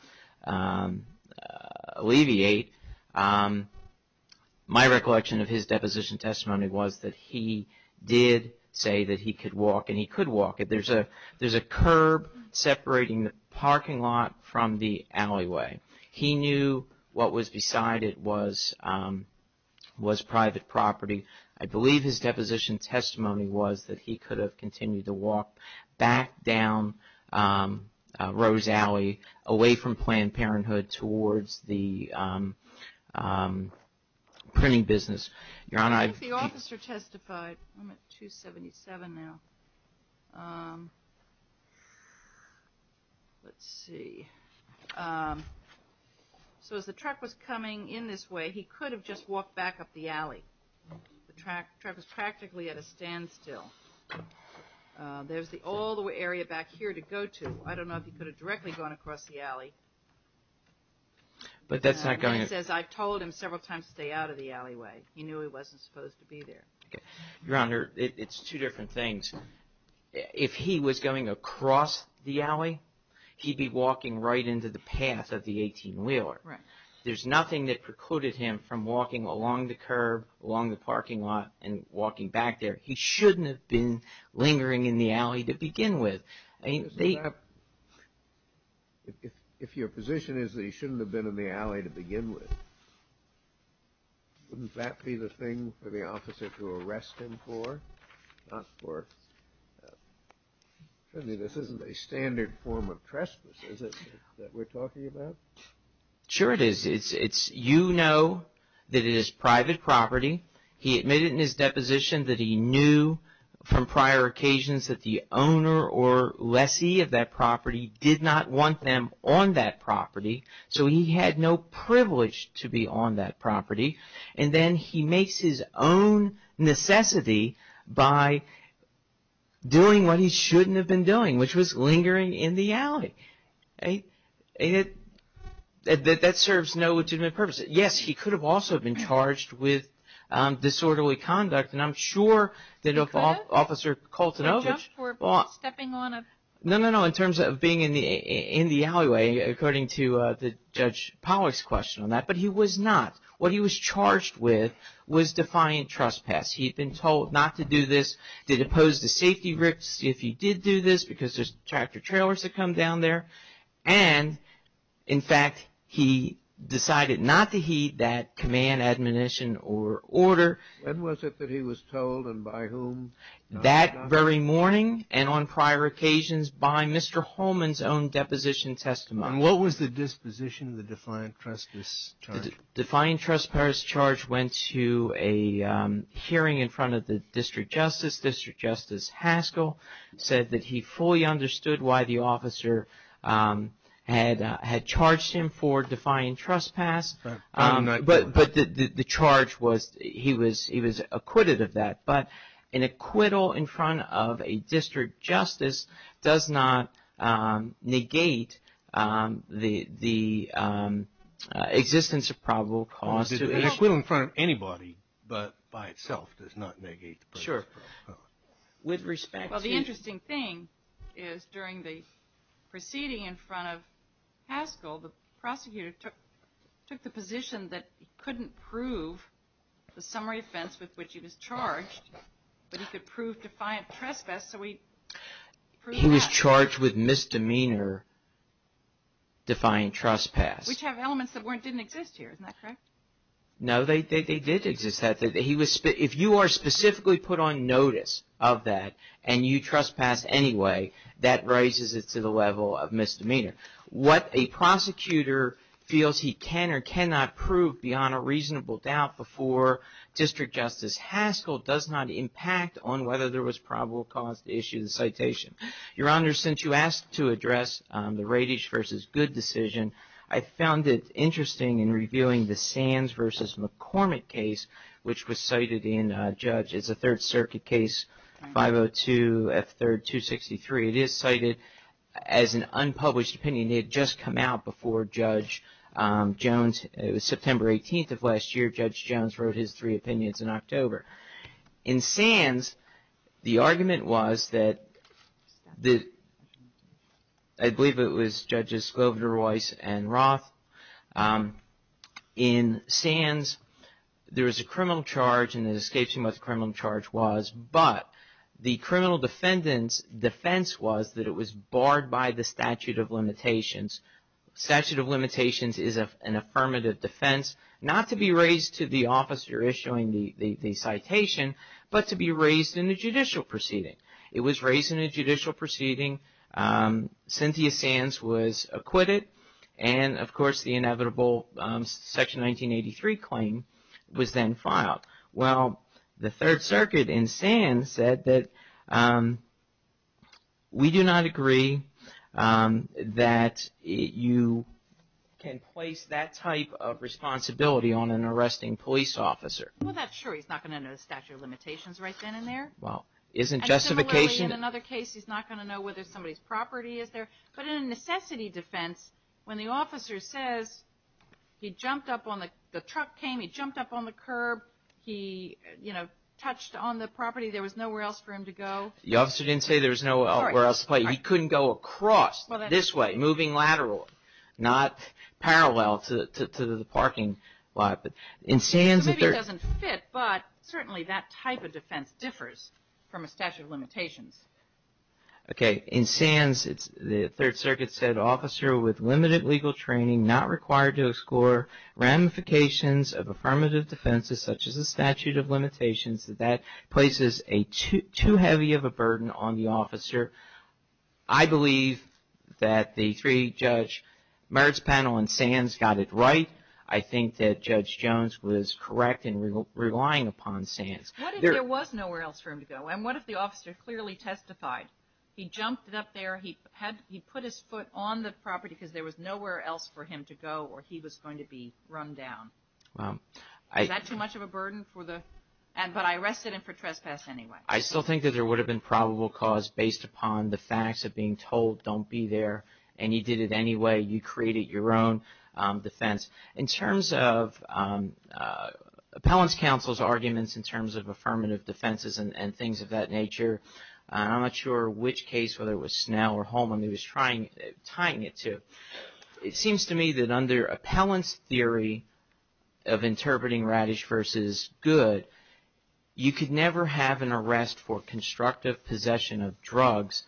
alleviate. My recollection of his deposition testimony was that he did say that he could walk, and he could walk. There's a curb separating the parking lot from the alleyway. He knew what was beside it was private property. I believe his deposition testimony was that he could have continued to walk back down Rose Alley, away from Planned Parenthood, towards the printing business. If the officer testified, I'm at 277 now. Let's see. So as the truck was coming in this way, he could have just walked back up the alley. The truck was practically at a standstill. There's the old area back here to go to. I don't know if he could have directly gone across the alley. He says, I've told him several times to stay out of the alleyway. He knew he wasn't supposed to be there. Your Honor, it's two different things. If he was going across the alley, he'd be walking right into the path of the 18-wheeler. There's nothing that precluded him from walking along the curb, along the parking lot, and walking back there. He shouldn't have been lingering in the alley to begin with. If your position is that he shouldn't have been in the alley to begin with, wouldn't that be the thing for the officer to arrest him for? This isn't a standard form of trespass, is it, that we're talking about? Sure it is. You know that it is private property. He admitted in his deposition that he knew from prior occasions that the owner or lessee of that property did not want them on that property. So he had no privilege to be on that property. And then he makes his own necessity by doing what he shouldn't have been doing, which was lingering in the alley. That serves no legitimate purpose. Yes, he could have also been charged with disorderly conduct. And I'm sure that if Officer Koltenovich- Could have? For stepping on a- No, no, no. In terms of being in the alleyway, according to Judge Pollack's question on that. But he was not. What he was charged with was defiant trespass. He'd been told not to do this, to depose the safety rips if he did do this, because there's tractor-trailers that come down there. And, in fact, he decided not to heed that command, admonition or order. When was it that he was told and by whom? That very morning and on prior occasions by Mr. Holman's own deposition testimony. And what was the disposition of the defiant trespass charge? The defiant trespass charge went to a hearing in front of the district justice. District Justice Haskell said that he fully understood why the officer had charged him for defiant trespass. But the charge was he was acquitted of that. But an acquittal in front of a district justice does not negate the existence of probable cause. An acquittal in front of anybody, but by itself, does not negate the presence of probable cause. Well, the interesting thing is during the proceeding in front of Haskell, the prosecutor took the position that he couldn't prove the summary offense with which he was charged, but he could prove defiant trespass. He was charged with misdemeanor defiant trespass. Which have elements that didn't exist here, isn't that correct? No, they did exist. If you are specifically put on notice of that and you trespass anyway, that raises it to the level of misdemeanor. What a prosecutor feels he can or cannot prove beyond a reasonable doubt before District Justice Haskell does not impact on whether there was probable cause to issue the citation. Your Honor, since you asked to address the Radish v. Good decision, I found it interesting in reviewing the Sands v. McCormick case, which was cited in Judge as a Third Circuit case, 502 F. 3rd. 263. It is cited as an unpublished opinion. It had just come out before Judge Jones. It was September 18th of last year. Judge Jones wrote his three opinions in October. In Sands, the argument was that, I believe it was Judges Glover-Royce and Roth. In Sands, there was a criminal charge and it escapes me what the criminal charge was, but the criminal defendant's defense was that it was barred by the statute of limitations. Statute of limitations is an affirmative defense, not to be raised to the officer issuing the citation, but to be raised in a judicial proceeding. It was raised in a judicial proceeding. Cynthia Sands was acquitted and, of course, the inevitable Section 1983 claim was then filed. Well, the Third Circuit in Sands said that, we do not agree that you can place that type of responsibility on an arresting police officer. Well, that's true. He's not going to know the statute of limitations right then and there. Well, isn't justification... And similarly, in another case, he's not going to know whether somebody's property is there. But in a necessity defense, when the officer says, the truck came, he jumped up on the curb, he, you know, touched on the property, there was nowhere else for him to go. The officer didn't say there was nowhere else to go. He couldn't go across this way, moving lateral, not parallel to the parking lot. So maybe it doesn't fit, but certainly that type of defense differs from a statute of limitations. Okay. In Sands, the Third Circuit said, I believe that the three-judge merits panel in Sands got it right. I think that Judge Jones was correct in relying upon Sands. What if there was nowhere else for him to go? And what if the officer clearly testified? He jumped up there. He jumped on the curb. He jumped on the curb. He jumped on the curb on the property because there was nowhere else for him to go or he was going to be run down. Wow. Was that too much of a burden for the... but I arrested him for trespass anyway. I still think that there would have been probable cause based upon the facts of being told don't be there. And he did it anyway. You created your own defense. In terms of... Appellate's counsel's arguments in terms of affirmative defenses and things of that nature, I'm not sure which case, whether it was Snell or Holman, he was tying it to. It seems to me that under Appellant's theory of interpreting radish versus good, you could never have an arrest for constructive possession of drugs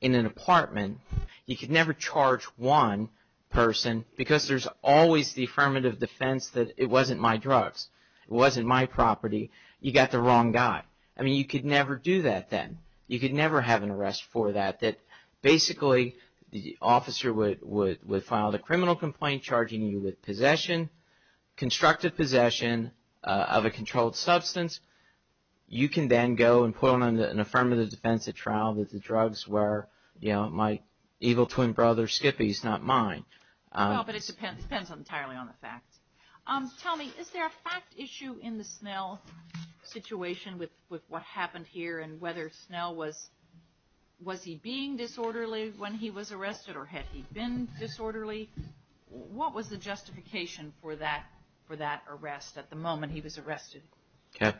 in an apartment. You could never charge one person because there's always the affirmative defense that it wasn't my drugs. It wasn't my property. You got the wrong guy. I mean, you could never do that then. You could never have an arrest for that, that basically the officer would file the criminal complaint charging you with possession, constructive possession of a controlled substance. You can then go and put on an affirmative defense at trial that the drugs were, you know, my evil twin brother Skippy's, not mine. Well, but it depends entirely on the facts. Tell me, is there a fact issue in the Snell situation with what happened here and whether Snell was he being disorderly when he was arrested or had he been disorderly? What was the justification for that arrest at the moment he was arrested? Okay.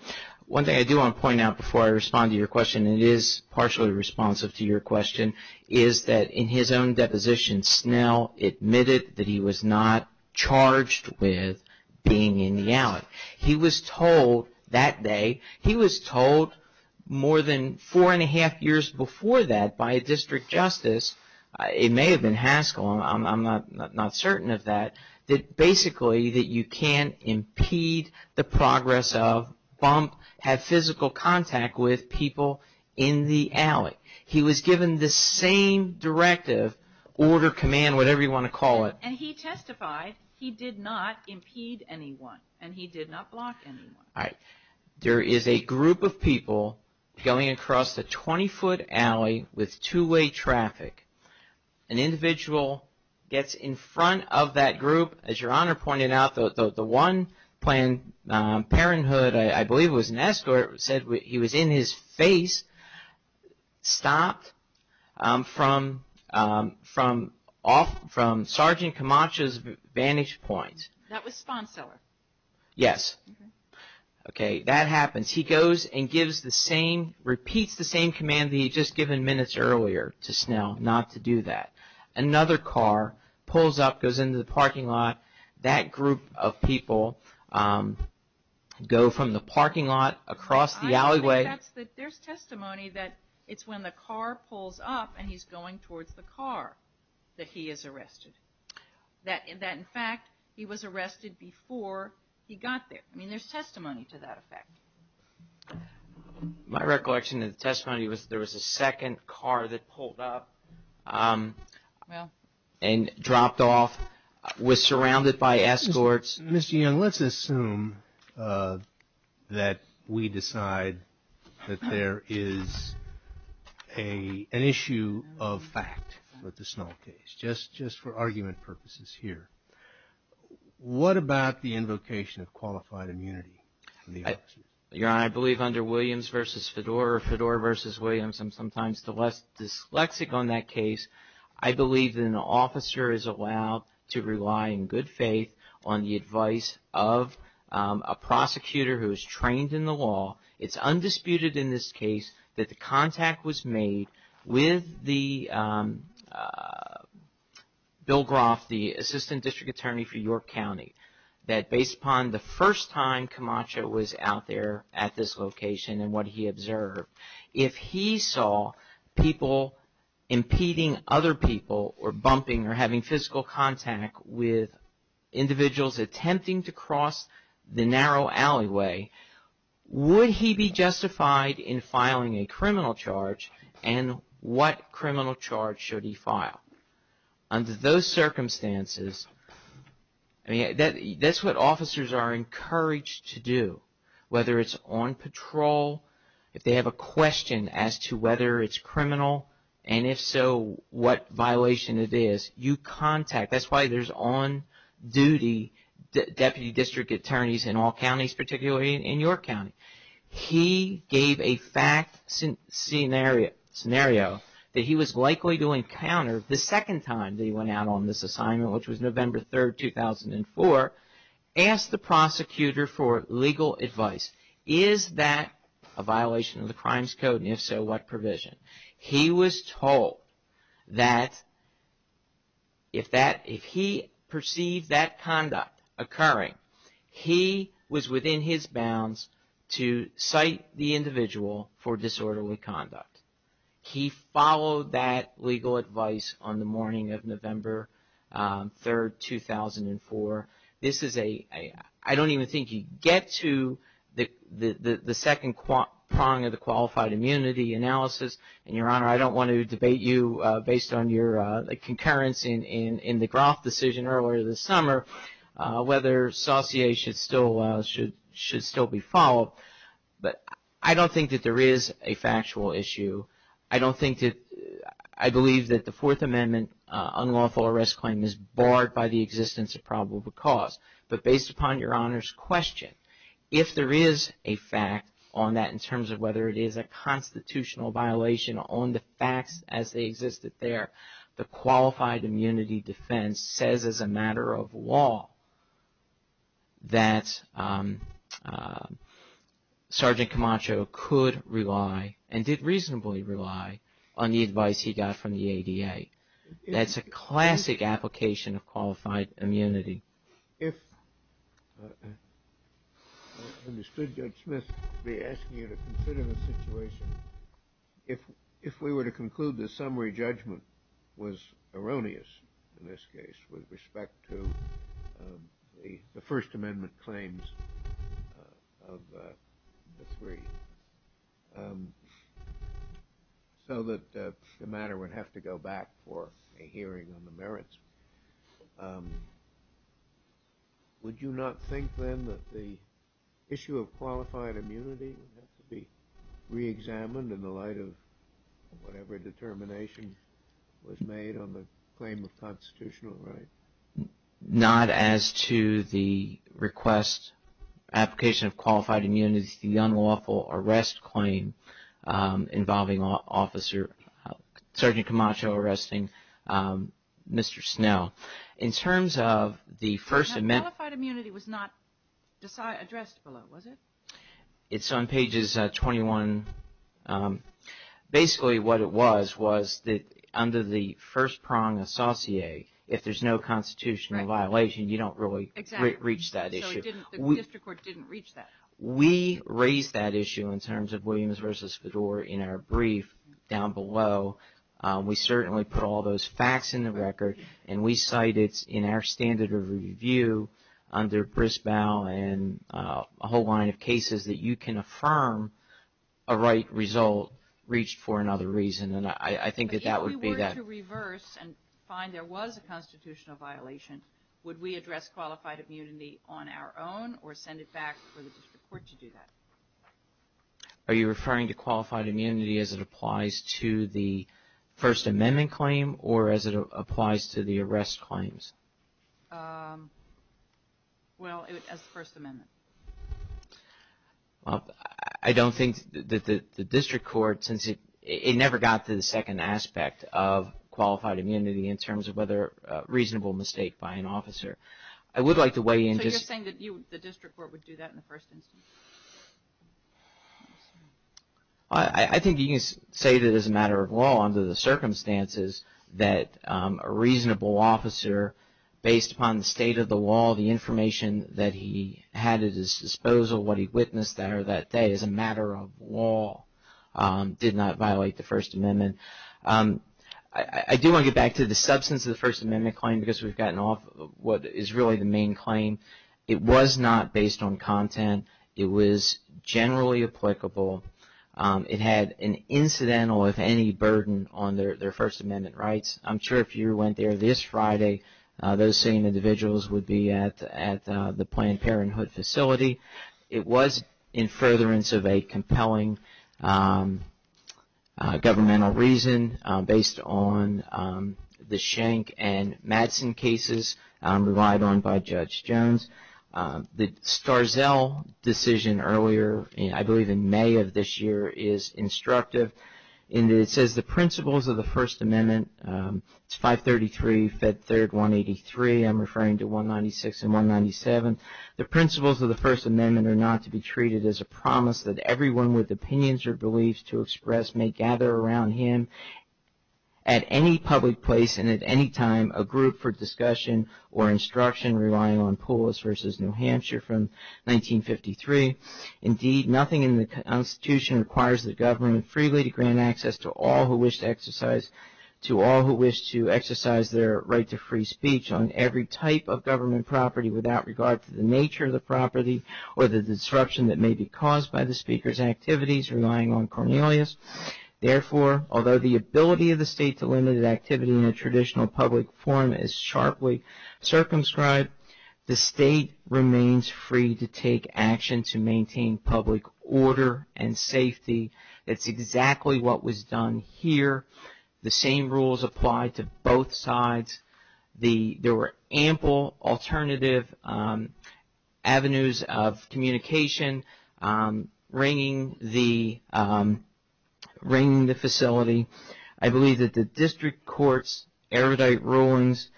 One thing I do want to point out before I respond to your question, and it is partially responsive to your question, is that in his own deposition Snell admitted that he was not charged with being in the alley. He was told that day, he was told more than four and a half years before that by a district justice, it may have been Haskell, I'm not certain of that, that basically that you can't impede the progress of, bump, have physical contact with people in the alley. He was given the same directive, order, command, whatever you want to call it. And he testified he did not impede anyone and he did not block anyone. All right. There is a group of people going across the 20-foot alley with two-way traffic. An individual gets in front of that group. As your Honor pointed out, the one playing Parenthood, I believe it was an escort, said he was in his face, stopped from Sergeant Camacho's vantage point. That was Sponseller. Yes. Okay. That happens. He goes and gives the same, repeats the same command that he had just given minutes earlier to Snell not to do that. Another car pulls up, goes into the parking lot. That group of people go from the parking lot across the alleyway. There's testimony that it's when the car pulls up and he's going towards the car that he is arrested, that in fact he was arrested before he got there. I mean, there's testimony to that effect. My recollection of the testimony was there was a second car that pulled up and dropped off, was surrounded by escorts. Mr. Young, let's assume that we decide that there is an issue of fact with the Snell case, just for argument purposes here. What about the invocation of qualified immunity from the officers? Your Honor, I believe under Williams v. Fedor or Fedor v. Williams, I'm sometimes dyslexic on that case. I believe that an officer is allowed to rely in good faith on the advice of a prosecutor who is trained in the law. It's undisputed in this case that the contact was made with Bill Groff, the Assistant District Attorney for York County, that based upon the first time Camacho was out there at this location and what he observed, if he saw people impeding other people or bumping or having physical contact with individuals attempting to cross the narrow alleyway, would he be justified in filing a criminal charge and what criminal charge should he file? Under those circumstances, that's what officers are encouraged to do. Whether it's on patrol, if they have a question as to whether it's criminal, and if so, what violation it is, you contact. That's why there's on-duty Deputy District Attorneys in all counties, particularly in York County. He gave a fact scenario that he was likely to encounter the second time that he went out on this assignment, which was November 3, 2004, asked the prosecutor for legal advice. Is that a violation of the Crimes Code, and if so, what provision? He was told that if he perceived that conduct occurring, he was within his bounds to cite the individual for disorderly conduct. He followed that legal advice on the morning of November 3, 2004. I don't even think you get to the second prong of the qualified immunity analysis. And, Your Honor, I don't want to debate you based on your concurrence in the Groff decision earlier this summer, whether saucier should still be followed. But I don't think that there is a factual issue. I believe that the Fourth Amendment unlawful arrest claim is barred by the existence of probable cause. But based upon Your Honor's question, if there is a fact on that, in terms of whether it is a constitutional violation on the facts as they existed there, the qualified immunity defense says as a matter of law that Sergeant Camacho could rely, and did reasonably rely, on the advice he got from the ADA. That's a classic application of qualified immunity. If we were to conclude the summary judgment was erroneous, in this case, with respect to the First Amendment claims of the three, so that the matter would have to go back for a hearing on the merits, would you not think then that the issue of qualified immunity would have to be reexamined in the light of whatever determination was made on the claim of constitutional right? Not as to the request, application of qualified immunity, with the unlawful arrest claim involving Sergeant Camacho arresting Mr. Snell. In terms of the First Amendment... That qualified immunity was not addressed below, was it? It's on pages 21. Basically what it was, was that under the first prong associate, if there's no constitutional violation, you don't really reach that issue. So the district court didn't reach that. We raised that issue in terms of Williams v. Fedor in our brief down below. We certainly put all those facts in the record, and we cite it in our standard of review under BRISBOW and a whole line of cases that you can affirm a right result reached for another reason. And I think that that would be that... But if we were to reverse and find there was a constitutional violation, would we address qualified immunity on our own or send it back for the district court to do that? Are you referring to qualified immunity as it applies to the First Amendment claim or as it applies to the arrest claims? Well, as the First Amendment. I don't think that the district court, since it never got to the second aspect of qualified immunity in terms of whether a reasonable mistake by an officer. I would like to weigh in just... So you're saying that the district court would do that in the first instance? I think you can say that as a matter of law under the circumstances that a reasonable officer based upon the state of the law, the information that he had at his disposal, what he witnessed there that day as a matter of law did not violate the First Amendment. I do want to get back to the substance of the First Amendment claim because we've gotten off what is really the main claim. It was not based on content. It was generally applicable. It had an incidental, if any, burden on their First Amendment rights. I'm sure if you went there this Friday, those same individuals would be at the Planned Parenthood facility. It was in furtherance of a compelling governmental reason based on the Schenck and Madsen cases relied on by Judge Jones. The Starzell decision earlier, I believe in May of this year, is instructive. It says the principles of the First Amendment, it's 533, Fed Third 183, I'm referring to 196 and 197. The principles of the First Amendment are not to be treated as a promise that everyone with opinions or beliefs to express may gather around him at any public place and at any time a group for discussion or instruction relying on Poulos v. New Hampshire from 1953. Indeed, nothing in the Constitution requires the government freely to grant access to all who wish to exercise their right to free speech on every type of government property without regard to the nature of the property or the disruption that may be caused by the speaker's activities relying on Cornelius. Therefore, although the ability of the state to limit activity in a traditional public forum is sharply circumscribed, the state remains free to take action to maintain public order and safety. That's exactly what was done here. The same rules apply to both sides. There were ample alternative avenues of communication ringing the facility. I believe that the district court's erudite rulings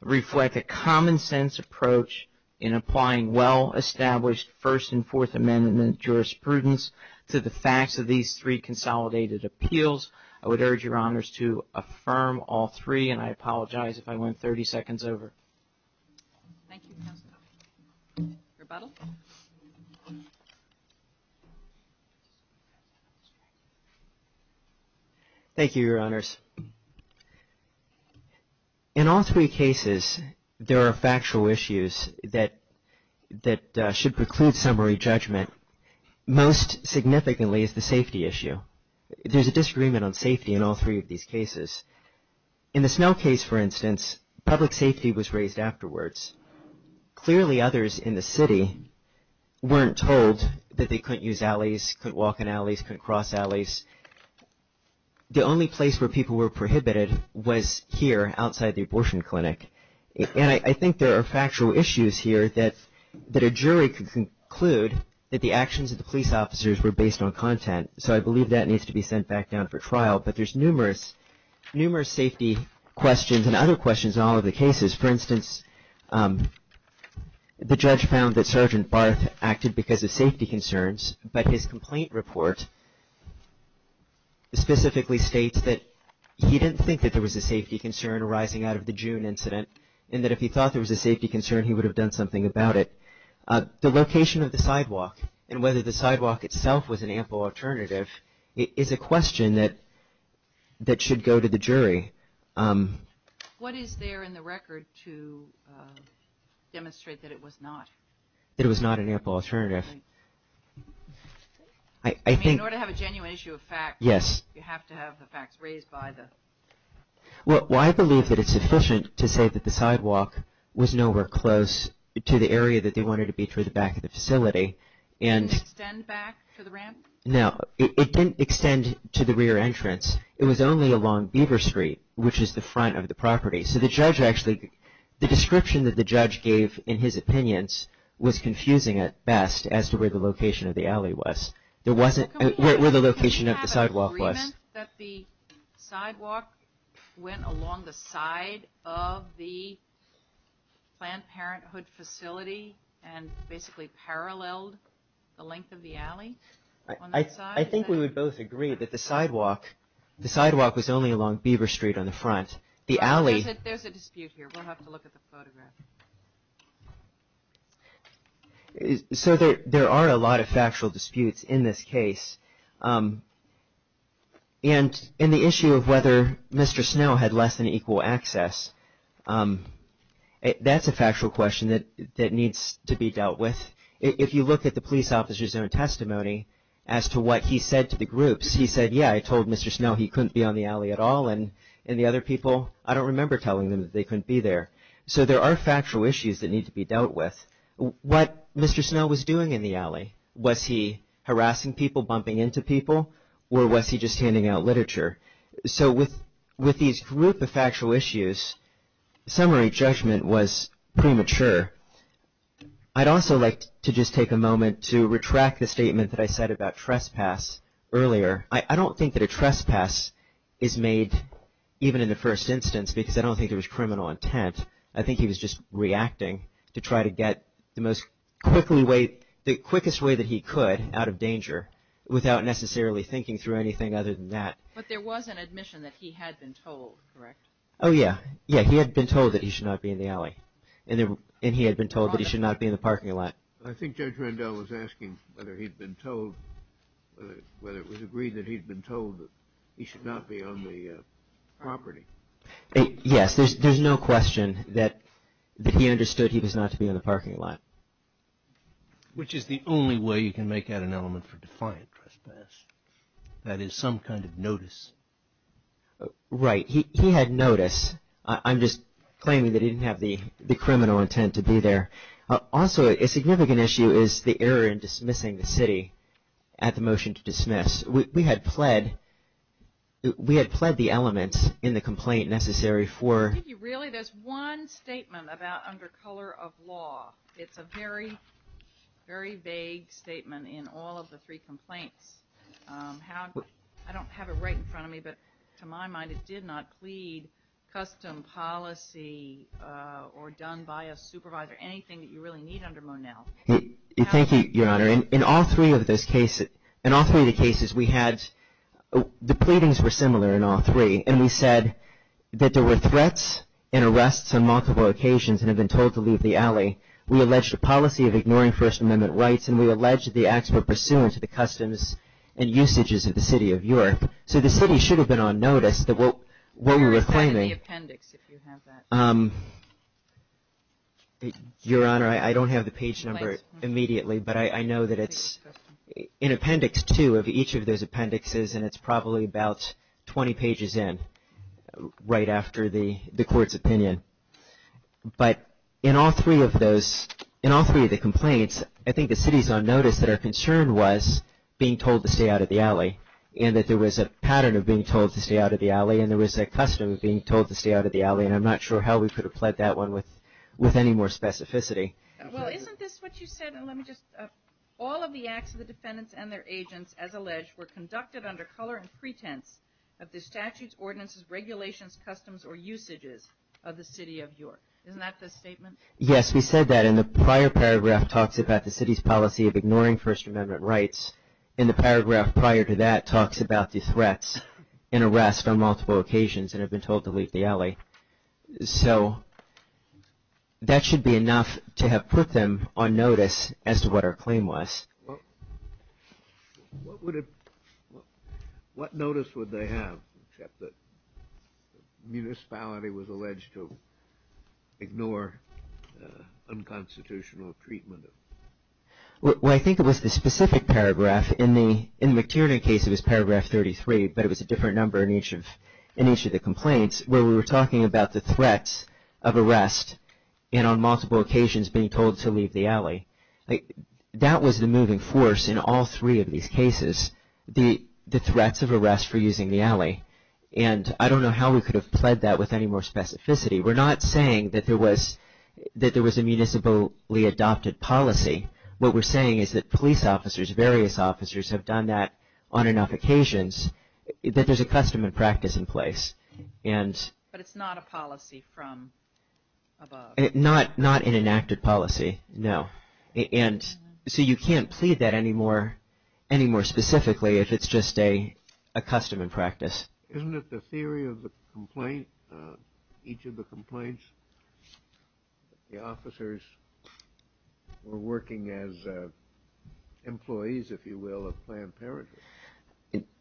reflect a common sense approach in applying well-established First and Fourth Amendment jurisprudence to the facts of these three consolidated appeals. I would urge Your Honors to affirm all three, and I apologize if I went 30 seconds over. Thank you, Counselor. Rebuttal. Thank you, Your Honors. In all three cases, there are factual issues that should preclude summary judgment. Most significantly is the safety issue. There's a disagreement on safety in all three of these cases. In the Snell case, for instance, public safety was raised afterwards. Clearly, others in the city weren't told that they couldn't use alleys, couldn't walk in alleys, couldn't cross alleys. The only place where people were prohibited was here outside the abortion clinic. And I think there are factual issues here that a jury could conclude that the actions of the police officers were based on content. So I believe that needs to be sent back down for trial. But there's numerous safety questions and other questions in all of the cases. For instance, the judge found that Sergeant Barth acted because of safety concerns, but his complaint report specifically states that he didn't think that there was a safety concern arising out of the June incident, and that if he thought there was a safety concern, he would have done something about it. The location of the sidewalk and whether the sidewalk itself was an ample alternative is a question that should go to the jury. What is there in the record to demonstrate that it was not? That it was not an ample alternative. In order to have a genuine issue of fact, you have to have the facts raised by the. Well, I believe that it's sufficient to say that the sidewalk was nowhere close to the area that they wanted to be through the back of the facility. And. Did it extend back to the ramp? No, it didn't extend to the rear entrance. It was only along Beaver Street, which is the front of the property. So the judge actually, the description that the judge gave in his opinions was confusing at best as to where the location of the alley was. There wasn't where the location of the sidewalk was that the sidewalk went along the side of the Planned Parenthood facility and basically paralleled the length of the alley. I think we would both agree that the sidewalk, the sidewalk was only along Beaver Street on the front. The alley. There's a dispute here. We'll have to look at the photograph. So there are a lot of factual disputes in this case. And in the issue of whether Mr. Snow had less than equal access, that's a factual question that that needs to be dealt with. If you look at the police officer's own testimony as to what he said to the groups, he said, yeah, I told Mr. Snow he couldn't be on the alley at all. And the other people, I don't remember telling them that they couldn't be there. So there are factual issues that need to be dealt with. What Mr. Snow was doing in the alley, was he harassing people, bumping into people, or was he just handing out literature? So with these group of factual issues, summary judgment was premature. I'd also like to just take a moment to retract the statement that I said about trespass earlier. I don't think that a trespass is made, even in the first instance, because I don't think there was criminal intent. I think he was just reacting to try to get the quickest way that he could out of danger without necessarily thinking through anything other than that. But there was an admission that he had been told, correct? Oh, yeah. Yeah, he had been told that he should not be in the alley. And he had been told that he should not be in the parking lot. I think Judge Rendell was asking whether he'd been told, whether it was agreed that he'd been told that he should not be on the property. Yes. There's no question that he understood he was not to be in the parking lot. Which is the only way you can make out an element for defiant trespass, that is some kind of notice. Right. He had notice. I'm just claiming that he didn't have the criminal intent to be there. Also, a significant issue is the error in dismissing the city at the motion to dismiss. We had pled the elements in the complaint necessary for... Really? There's one statement about under color of law. It's a very, very vague statement in all of the three complaints. I don't have it right in front of me, but to my mind it did not plead custom policy or done by a supervisor, anything that you really need under Monell. Thank you, Your Honor. In all three of the cases we had, the pleadings were similar in all three. And we said that there were threats and arrests on multiple occasions and had been told to leave the alley. We alleged a policy of ignoring First Amendment rights and we alleged the acts were pursuant to the customs and usages of the city of York. So the city should have been on notice that what we were claiming. Where is the appendix if you have that? Your Honor, I don't have the page number immediately, but I know that it's in appendix two of each of those appendixes and it's probably about 20 pages in right after the court's opinion. But in all three of the complaints, I think the city's on notice that our concern was being told to stay out of the alley and that there was a pattern of being told to stay out of the alley and there was a custom of being told to stay out of the alley and I'm not sure how we could have pled that one with any more specificity. Well, isn't this what you said? All of the acts of the defendants and their agents, as alleged, were conducted under color and pretense of the statutes, ordinances, regulations, customs or usages of the city of York. Isn't that the statement? Yes, we said that in the prior paragraph talks about the city's policy of ignoring First Amendment rights and the paragraph prior to that talks about the threats and arrests on multiple occasions and have been told to leave the alley. So that should be enough to have put them on notice as to what our claim was. What notice would they have except that municipality was alleged to ignore unconstitutional treatment? Well, I think it was the specific paragraph. In the McTiernan case, it was paragraph 33, but it was a different number in each of the complaints where we were talking about the threats of arrest and on multiple occasions being told to leave the alley. That was the moving force in all three of these cases, the threats of arrest for using the alley. And I don't know how we could have pled that with any more specificity. We're not saying that there was a municipally adopted policy. What we're saying is that police officers, various officers have done that on enough occasions that there's a custom and practice in place. But it's not a policy from above. Not an enacted policy, no. And so you can't plead that any more specifically if it's just a custom and practice. Isn't it the theory of the complaint, each of the complaints, the officers were working as employees, if you will, of Planned Parenthood?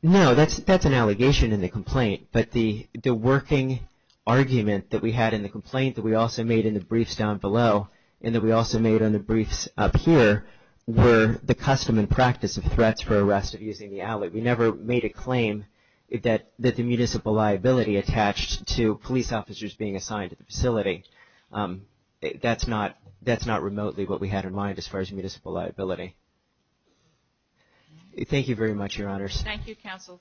No, that's an allegation in the complaint. But the working argument that we had in the complaint that we also made in the briefs down below and that we also made in the briefs up here were the custom and practice of threats for arrest of using the alley. We never made a claim that the municipal liability attached to police officers being assigned to the facility. That's not remotely what we had in mind as far as municipal liability. Thank you very much, Your Honors. Thank you, Counsel.